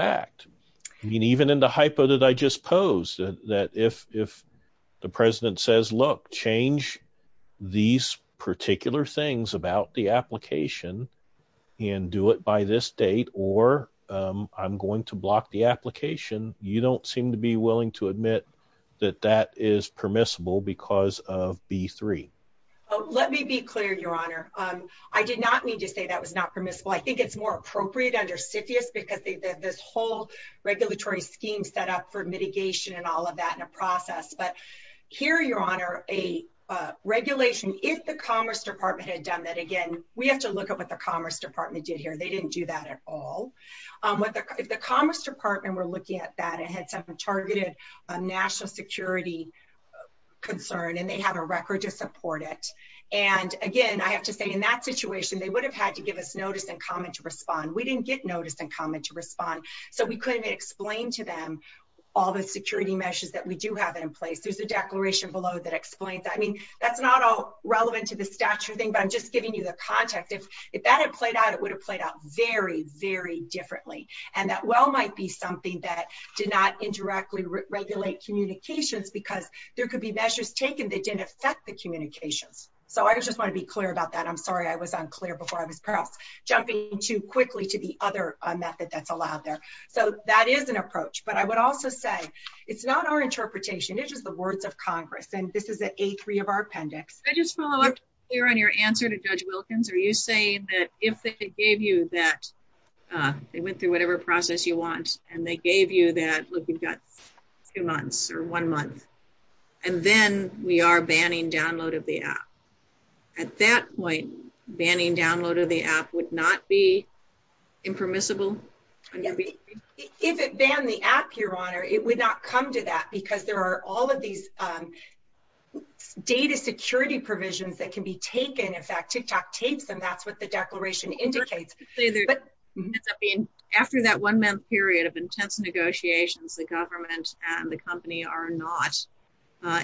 act. I mean, even in the hypo that I just posed, that if the president says, look, change these particular things about the application and do it by this date, or I'm going to block the application, you don't seem to be willing to admit that that is permissible because of B3. Oh, let me be clear, Your Honor. I did not need to say that was not permissible. I think it's more appropriate under CFIUS because they've got this whole regulatory scheme set up for mitigation and all of that in a process. But here, Your Honor, a regulation, if the Commerce Department had done that, again, we have to look at what the Commerce Department did here. They didn't do that at all. But the Commerce Department were looking at that targeted national security concern, and they have a record to support it. And again, I have to say, in that situation, they would have had to give us notice and comment to respond. We didn't get notice and comment to respond. So we couldn't explain to them all the security measures that we do have in place. There's a declaration below that explains that. I mean, that's not all relevant to the statute thing, but I'm just giving you the context. If that had played out, it would have played out very, very differently. And that well might be something that did not indirectly regulate communications because there could be measures taken that didn't affect the communications. So I just want to be clear about that. I'm sorry I was unclear before I was proud. Jumping too quickly to the other method that's allowed there. So that is an approach. But I would also say it's not our interpretation. This is the words of Congress, and this is an A3 of our process. They went through whatever process you want, and they gave you that two months or one month. And then we are banning download of the app. At that point, banning download of the app would not be impermissible? If it banned the app, Your Honor, it would not come to that because there are all of these data security provisions that can be taken. In fact, TikTok takes them. That's what the declaration indicates. After that one month period of intense negotiations, the government and the company are not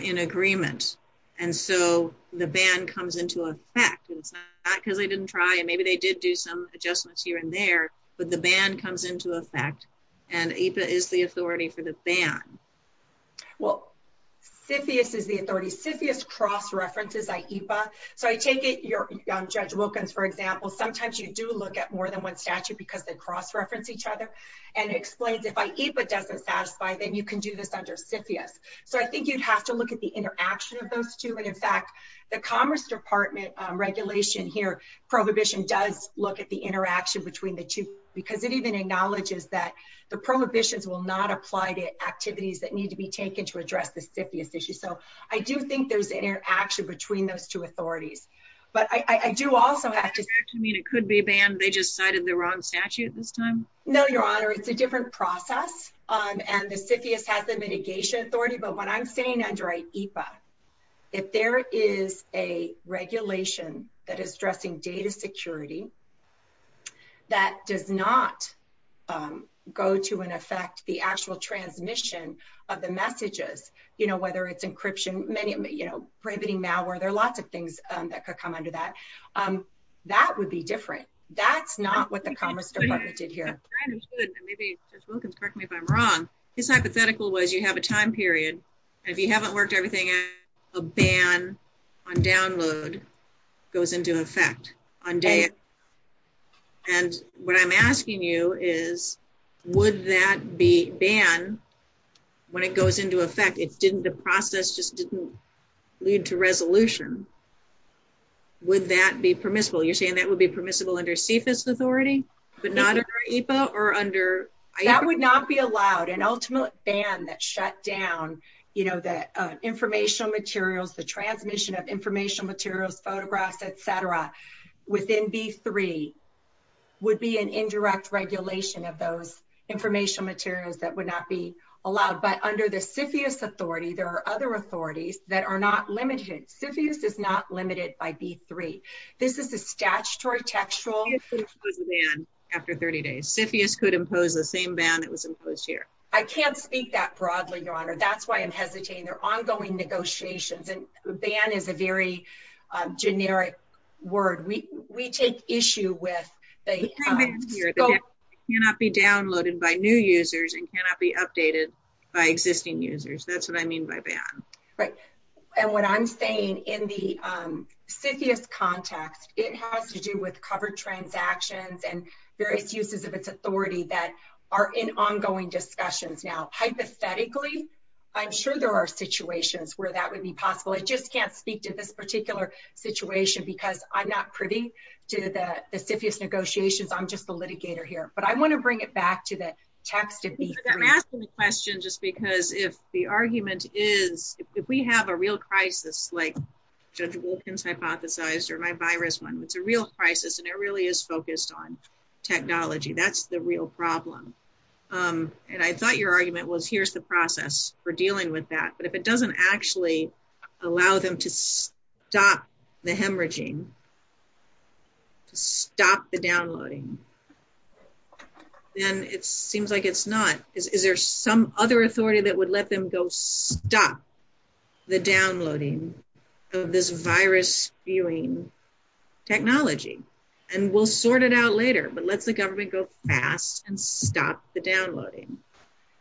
in agreement. And so the ban comes into effect. It's not because they didn't try, and maybe they did do some adjustments here and there, but the ban comes into effect, and AIPA is the authority for the ban. Well, CFIUS is the authority. CFIUS cross-references AIPA. So I take it you're, Judge Wilkins, for example, sometimes you do look at more than one statute because they cross-reference each other, and it explains if AIPA doesn't satisfy, then you can do this under CFIUS. So I think you'd have to look at the interaction of those two. And in fact, the Commerce Department regulation here, prohibition does look at the interaction between the two because it even acknowledges that the prohibitions will not apply to activities that need to be taken to address the CFIUS issue. So I do think there's interaction between those two authorities. But I do also have to... Does that mean it could be banned? They just cited the wrong statute this time? No, Your Honor. It's a different process, and the CFIUS has the mitigation authority. But what I'm saying under AIPA, if there is a regulation that is addressing data security that does not go to and affect the actual transmission of the messages, whether it's encryption, prohibiting malware, there are lots of things that could come under that, that would be different. That's not what the Commerce Department did here. I understood, and maybe Ms. Wilkins, correct me if I'm wrong. His hypothetical was you have a time period, and if you haven't worked everything out, a ban on download goes into effect. And what I'm asking you is, would that be banned when it goes into effect? The process just lead to resolution. Would that be permissible? You're saying that would be permissible under CFIUS authority, but not under AIPA or under... That would not be allowed. An ultimate ban that shut down the informational materials, the transmission of informational materials, photographs, et cetera, within B3 would be an indirect regulation of those informational materials that would not be allowed. But under the CFIUS authority, there are other authorities that are not limited. CFIUS is not limited by B3. This is a statutory textual... CFIUS would ban after 30 days. CFIUS could impose the same ban that was imposed here. I can't speak that broadly, Your Honor. That's why I'm hesitating. They're ongoing negotiations, and ban is a very generic word. We take issue with the... ...cannot be downloaded by new users and cannot be updated by existing users. That's what I mean by ban. Right. And what I'm saying in the CFIUS context, it has to do with covered transactions and various uses of its authority that are in ongoing discussions now. Hypothetically, I'm sure there are situations where that would be possible. I just can't speak to this particular situation because I'm not privy to the CFIUS negotiations. I'm just the litigator here. But I want to bring it back to the text of the... I'm asking the question just because if the argument is, if we have a real crisis like Judge Wilkins hypothesized or my virus one, it's a real crisis, and it really is focused on technology. That's the real problem. And I thought your argument was, here's the process for dealing with that. But if it doesn't actually allow them to stop the hemorrhaging, to stop the downloading, then it seems like it's not... Is there some other authority that would let them go stop the downloading of this virus-stealing technology? And we'll sort it out later, but let the government go fast and stop the downloading.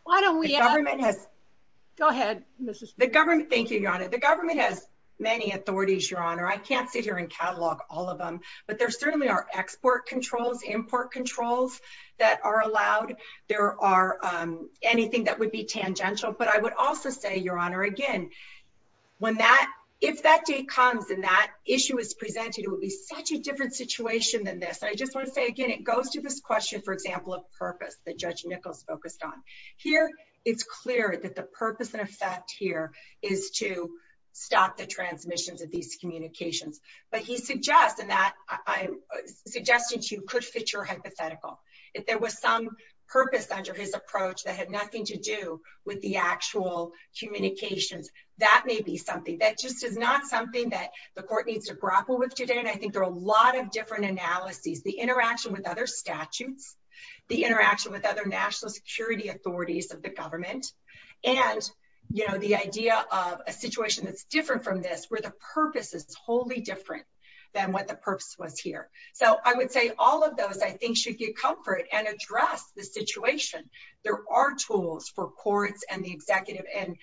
Why don't we... Go ahead. Thank you, Your Honor. The government has many authorities, Your Honor. I can't figure and catalog all of them, but there certainly are export controls, import controls that are allowed. There are anything that would be tangential. But I would also say, Your Honor, again, if that date comes and that issue is presented, it will be such a different situation than this. I just want to say, again, it goes to this question, for example, of purpose that it's clear that the purpose and effect here is to stop the transmissions of these communications. But he suggests, and I'm suggesting to you, could fit your hypothetical. If there was some purpose under his approach that had nothing to do with the actual communications, that may be something. That just is not something that the court needs to grapple with today, and I think there are a lot of different analyses. The interaction with other statutes, the interaction with other national security authorities of the government, and the idea of a situation that's different from this, where the purpose is totally different than what the purpose was here. So I would say all of those, I think, should give comfort and address the situation. There are tools for courts and the executive and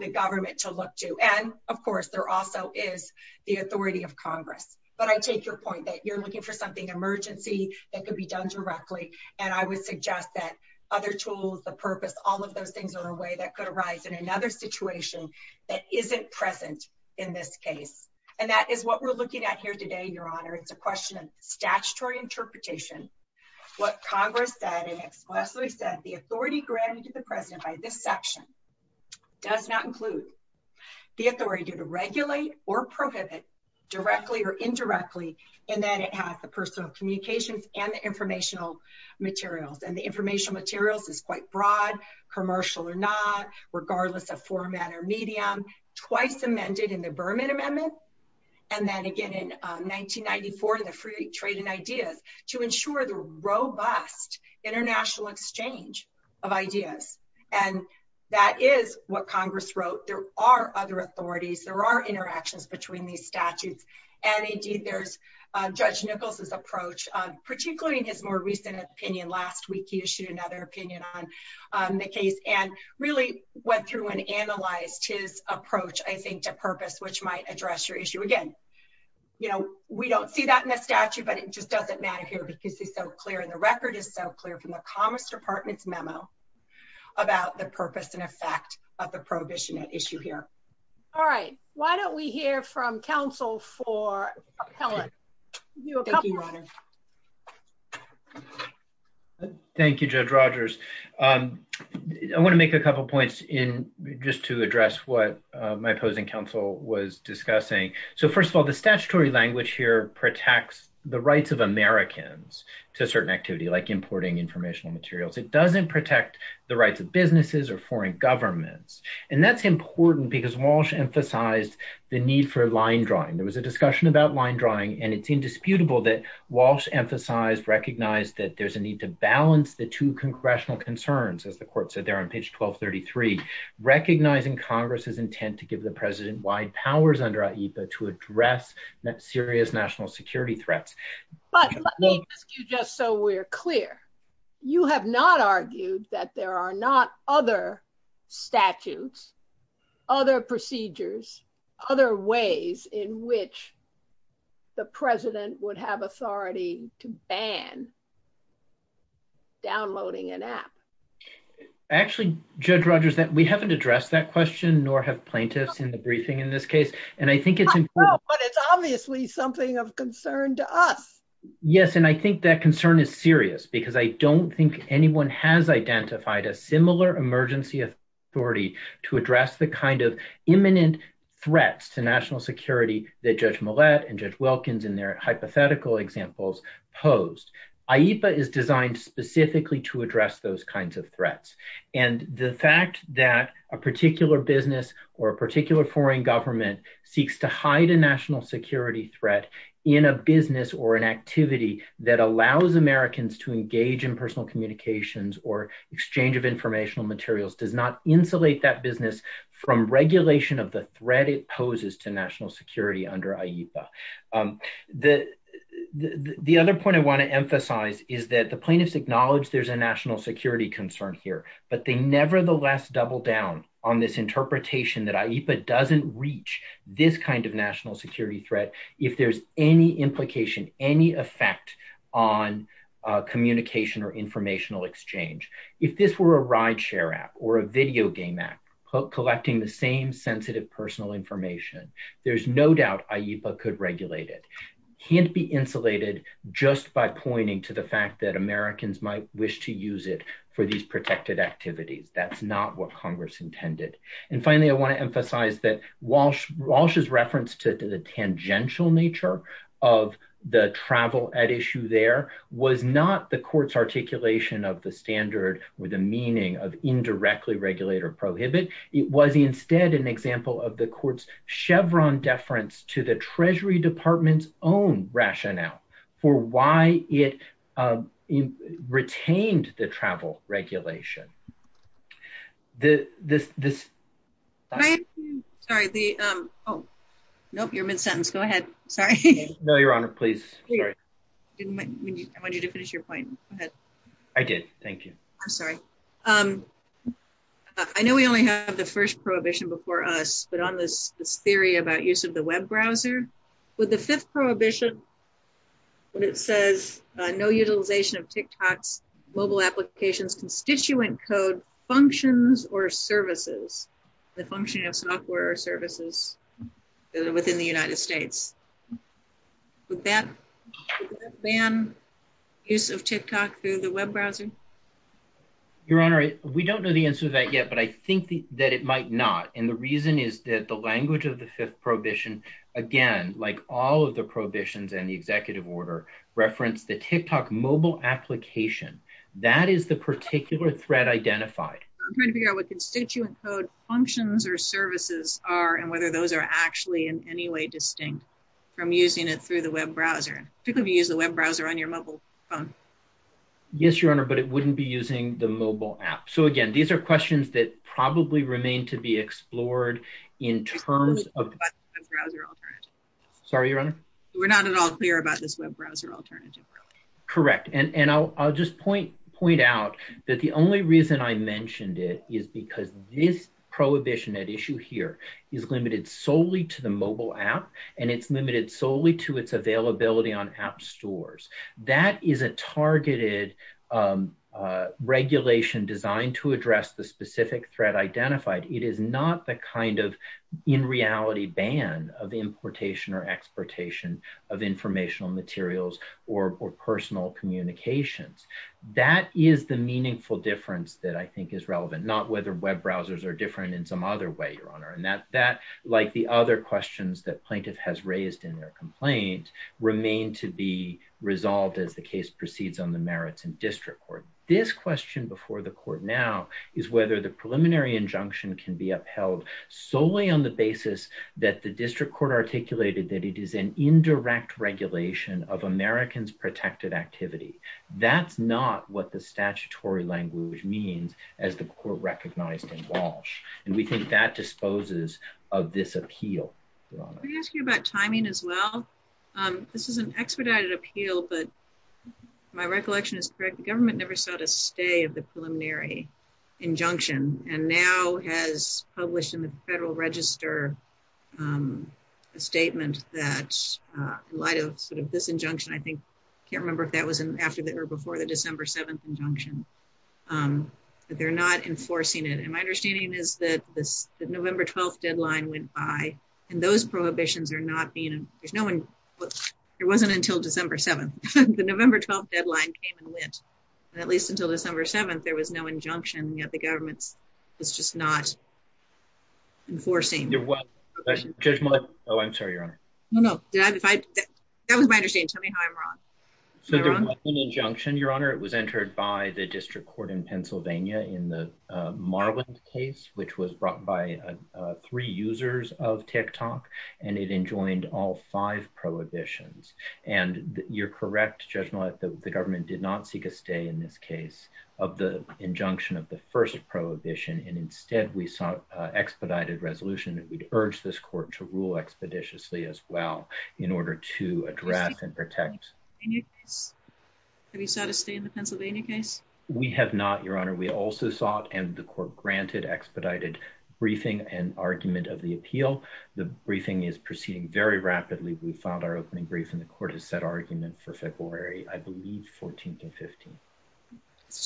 the government to look to. And of course, there also is the authority of Congress. But I take your point that you're looking for something emergency that could be done directly, and I would suggest that other tools, the purpose, all of those things are a way that could arise in another situation that isn't present in this case. And that is what we're looking at here today, Your Honor. It's a question of statutory interpretation. What Congress said and expressly said, the authority granted to the President by this section does not include the authority to regulate or prohibit directly or indirectly in that it has the personal communications and the informational materials. And the informational materials is quite broad, commercial or not, regardless of format or medium, twice amended in the Berman Amendment, and then again in 1994, the Free Trade and Ideas, to ensure the robust international exchange of ideas. And that is what Congress wrote. There are other authorities, there are interactions between these statutes. And indeed, there's Judge Nichols' approach, particularly in his more recent opinion last week, he issued another opinion on the case and really went through and analyzed his approach, I think, to purpose, which might address your issue. Again, you know, we don't see that in the statute, but it just doesn't matter here because it's so clear and the record is so clear from the Commerce Department's memo about the purpose and effect of the prohibition issue here. All right, why don't we hear from counsel for appellate? Thank you, Judge Rogers. I want to make a couple points in just to address what my opposing counsel was discussing. So first of all, the statutory language here protects the rights of Americans to a certain activity, like importing informational materials. It doesn't protect the rights of businesses or foreign governments. And that's important because Walsh emphasized the need for line drawing. There was a discussion about line drawing, and it's indisputable that Walsh emphasized, recognized that there's a need to balance the two congressional concerns, as the court said there on page 1233, recognizing Congress's intent to give the president wide powers under AIPA to address serious national security threats. But just so we're clear, you have not argued that there are not other statutes, other procedures, other ways in which the president would have authority to ban downloading an app. Actually, Judge Rogers, that we haven't addressed that question, nor have plaintiffs in the briefing in this case, and I think it's important. But it's obviously something of concern to us. Yes, and I think that concern is serious because I don't think anyone has identified a similar emergency authority to address the kind of imminent threats to national security that Judge Millett and Judge Wilkins in their hypothetical examples posed. AIPA is designed specifically to address those kinds of threats. And the fact that a particular business or a particular foreign government seeks to hide a national security threat in a business or an activity that allows Americans to engage in personal communications or exchange of informational materials does not insulate that business from regulation of the threat it poses to national security under AIPA. The other point I want to emphasize is that the plaintiffs acknowledge there's a national security concern here, but they nevertheless double down on this interpretation that AIPA doesn't reach this kind of national security threat if there's any implication, any effect on communication or informational exchange. If this were a rideshare app or a video game app collecting the same sensitive personal information, there's no doubt AIPA could regulate it. It can't be insulated just by pointing to the fact that Congress intended. And finally, I want to emphasize that Walsh's reference to the tangential nature of the travel at issue there was not the court's articulation of the standard with the meaning of indirectly regulate or prohibit. It was instead an example of the court's Chevron deference to the Treasury Department's own rationale for why it retained the travel regulation. I know we only have the first prohibition before us, but on this theory about use of the web browser, with the fifth prohibition, when it says no utilization of TikTok's mobile applications constituent code functions or services, the functioning of software or services within the United States, would that ban use of TikTok through the web browser? Your Honor, we don't know the answer to that yet, but I think that it might not. And the reason is that the language of the fifth prohibition, again, like all of the prohibitions in the executive order, reference the TikTok mobile application. That is the particular threat identified. I'm trying to figure out what constituent code functions or services are and whether those are actually in any way distinct from using it through the web browser. Typically you use the web browser on your mobile phone. Yes, Your Honor, but it wouldn't be using the mobile app. So again, these are questions that probably remain to be explored in terms of... Sorry, Your Honor? We're not at all clear about this web browser alternative. Correct. And I'll just point out that the only reason I mentioned it is because this prohibition at issue here is limited solely to the mobile app, and it's limited solely to its availability on app stores. That is a targeted regulation designed to address the specific threat identified. It is not the kind of in reality ban of importation or exportation of informational materials or personal communications. That is the meaningful difference that I think is relevant, not whether web browsers are different in some other way, Your Honor. And that, like the other questions that plaintiff has raised in their complaints, remain to be resolved as the case proceeds on the merits and district court. This question before the court now is whether the preliminary injunction can be upheld solely on the basis that the district court articulated that it is an indirect regulation of Americans' protected activity. That's not what the statutory language means as the court recognized in Walsh. And we think that disposes of this appeal, Your Honor. Can I ask you about timing as well? This is an expedited appeal, but my recollection is correct. The government never saw the stay of the preliminary injunction and now has published in the Federal Register a statement that in light of this injunction, I think, I can't remember if that was after or before the December 7th injunction, but they're not enforcing it. And my understanding is that the November 12th deadline went by, and those prohibitions are not being, there's no one, whoops, it wasn't until December 7th. The November 12th deadline came and went, and at least until December 7th, there was no injunction, yet the government was just not enforcing. Oh, I'm sorry, Your Honor. No, no. That was my understanding. Tell me how I'm wrong. So there wasn't an injunction, Your Honor. It was entered by the district court in Pennsylvania in the Marland case, which was brought by three users of TikTok, and it enjoined all five prohibitions. And you're correct, Judge Nolette, that the government did not seek a stay in this case of the injunction of the first prohibition, and instead, we sought expedited resolution that we'd urge this court to rule expeditiously as well in order to address and protect. Have you sought a stay in the Pennsylvania case? We have not, Your Honor. We also sought, and the court granted, expedited briefing and argument of the appeal. The briefing is the court has set arguments for February, I believe, 14th and 15th.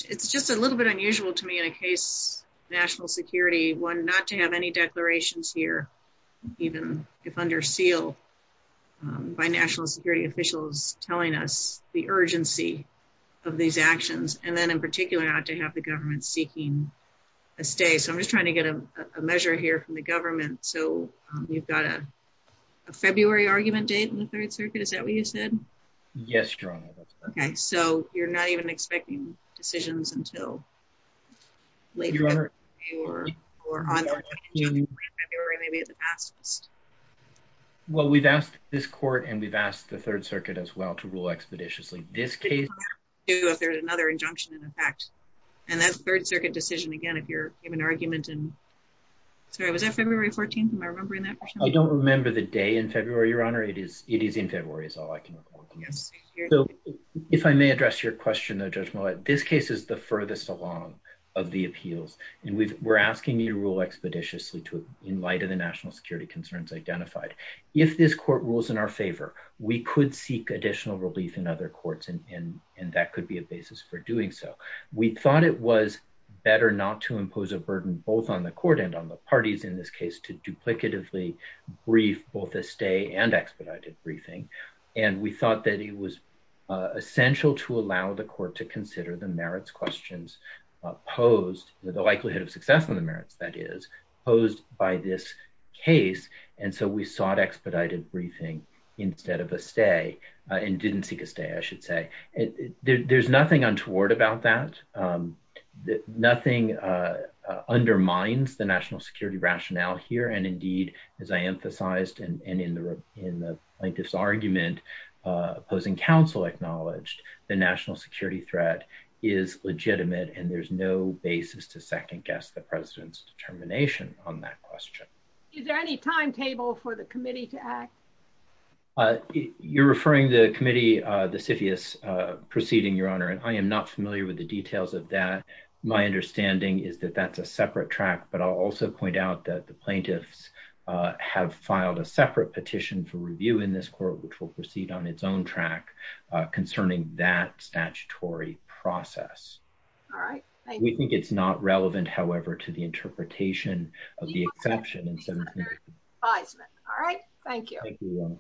It's just a little bit unusual to me in a case of national security, one, not to have any declarations here, even if under seal by national security officials, telling us the urgency of these actions, and then in particular, not to have the government seeking a stay. So I'm just trying to get a measure here from the government. So we've got a third circuit. Is that what you said? Yes, Your Honor. Okay. So you're not even expecting decisions until later on in February, maybe in the past? Well, we've asked this court, and we've asked the Third Circuit as well to rule expeditiously. This case... If there's another injunction in effect, and that's Third Circuit decision, again, if you're given argument in... Sorry, was that February 14th? Am I remembering that? I don't remember the day in February, Your Honor. It is in February is all I can recall. So if I may address your question, Judge Millett, this case is the furthest along of the appeals, and we're asking you to rule expeditiously in light of the national security concerns identified. If this court rules in our favor, we could seek additional relief in other courts, and that could be a basis for doing so. We thought it was better not to impose a burden, both on the court and on the parties in this case, to duplicatively brief both a stay and expedited briefing. And we thought that it was essential to allow the court to consider the merits questions posed, the likelihood of success of the merits, that is, posed by this case. And so we sought expedited briefing instead of a stay, and didn't seek a stay, I should say. There's nothing untoward about that. Nothing undermines the national security rationale here. And indeed, as I emphasized in this argument, opposing counsel acknowledged the national security threat is legitimate, and there's no basis to second guess the president's determination on that question. Is there any timetable for the committee to act? Uh, you're referring the committee, uh, the CFIUS proceeding, Your Honor, and I am not familiar with the details of that. My understanding is that that's a separate track, but I'll also point out that the plaintiffs have filed a separate petition for review in this court, which will proceed on its own track concerning that statutory process. All right. We think it's not relevant, however, to the interpretation of the exception. All right. Thank you.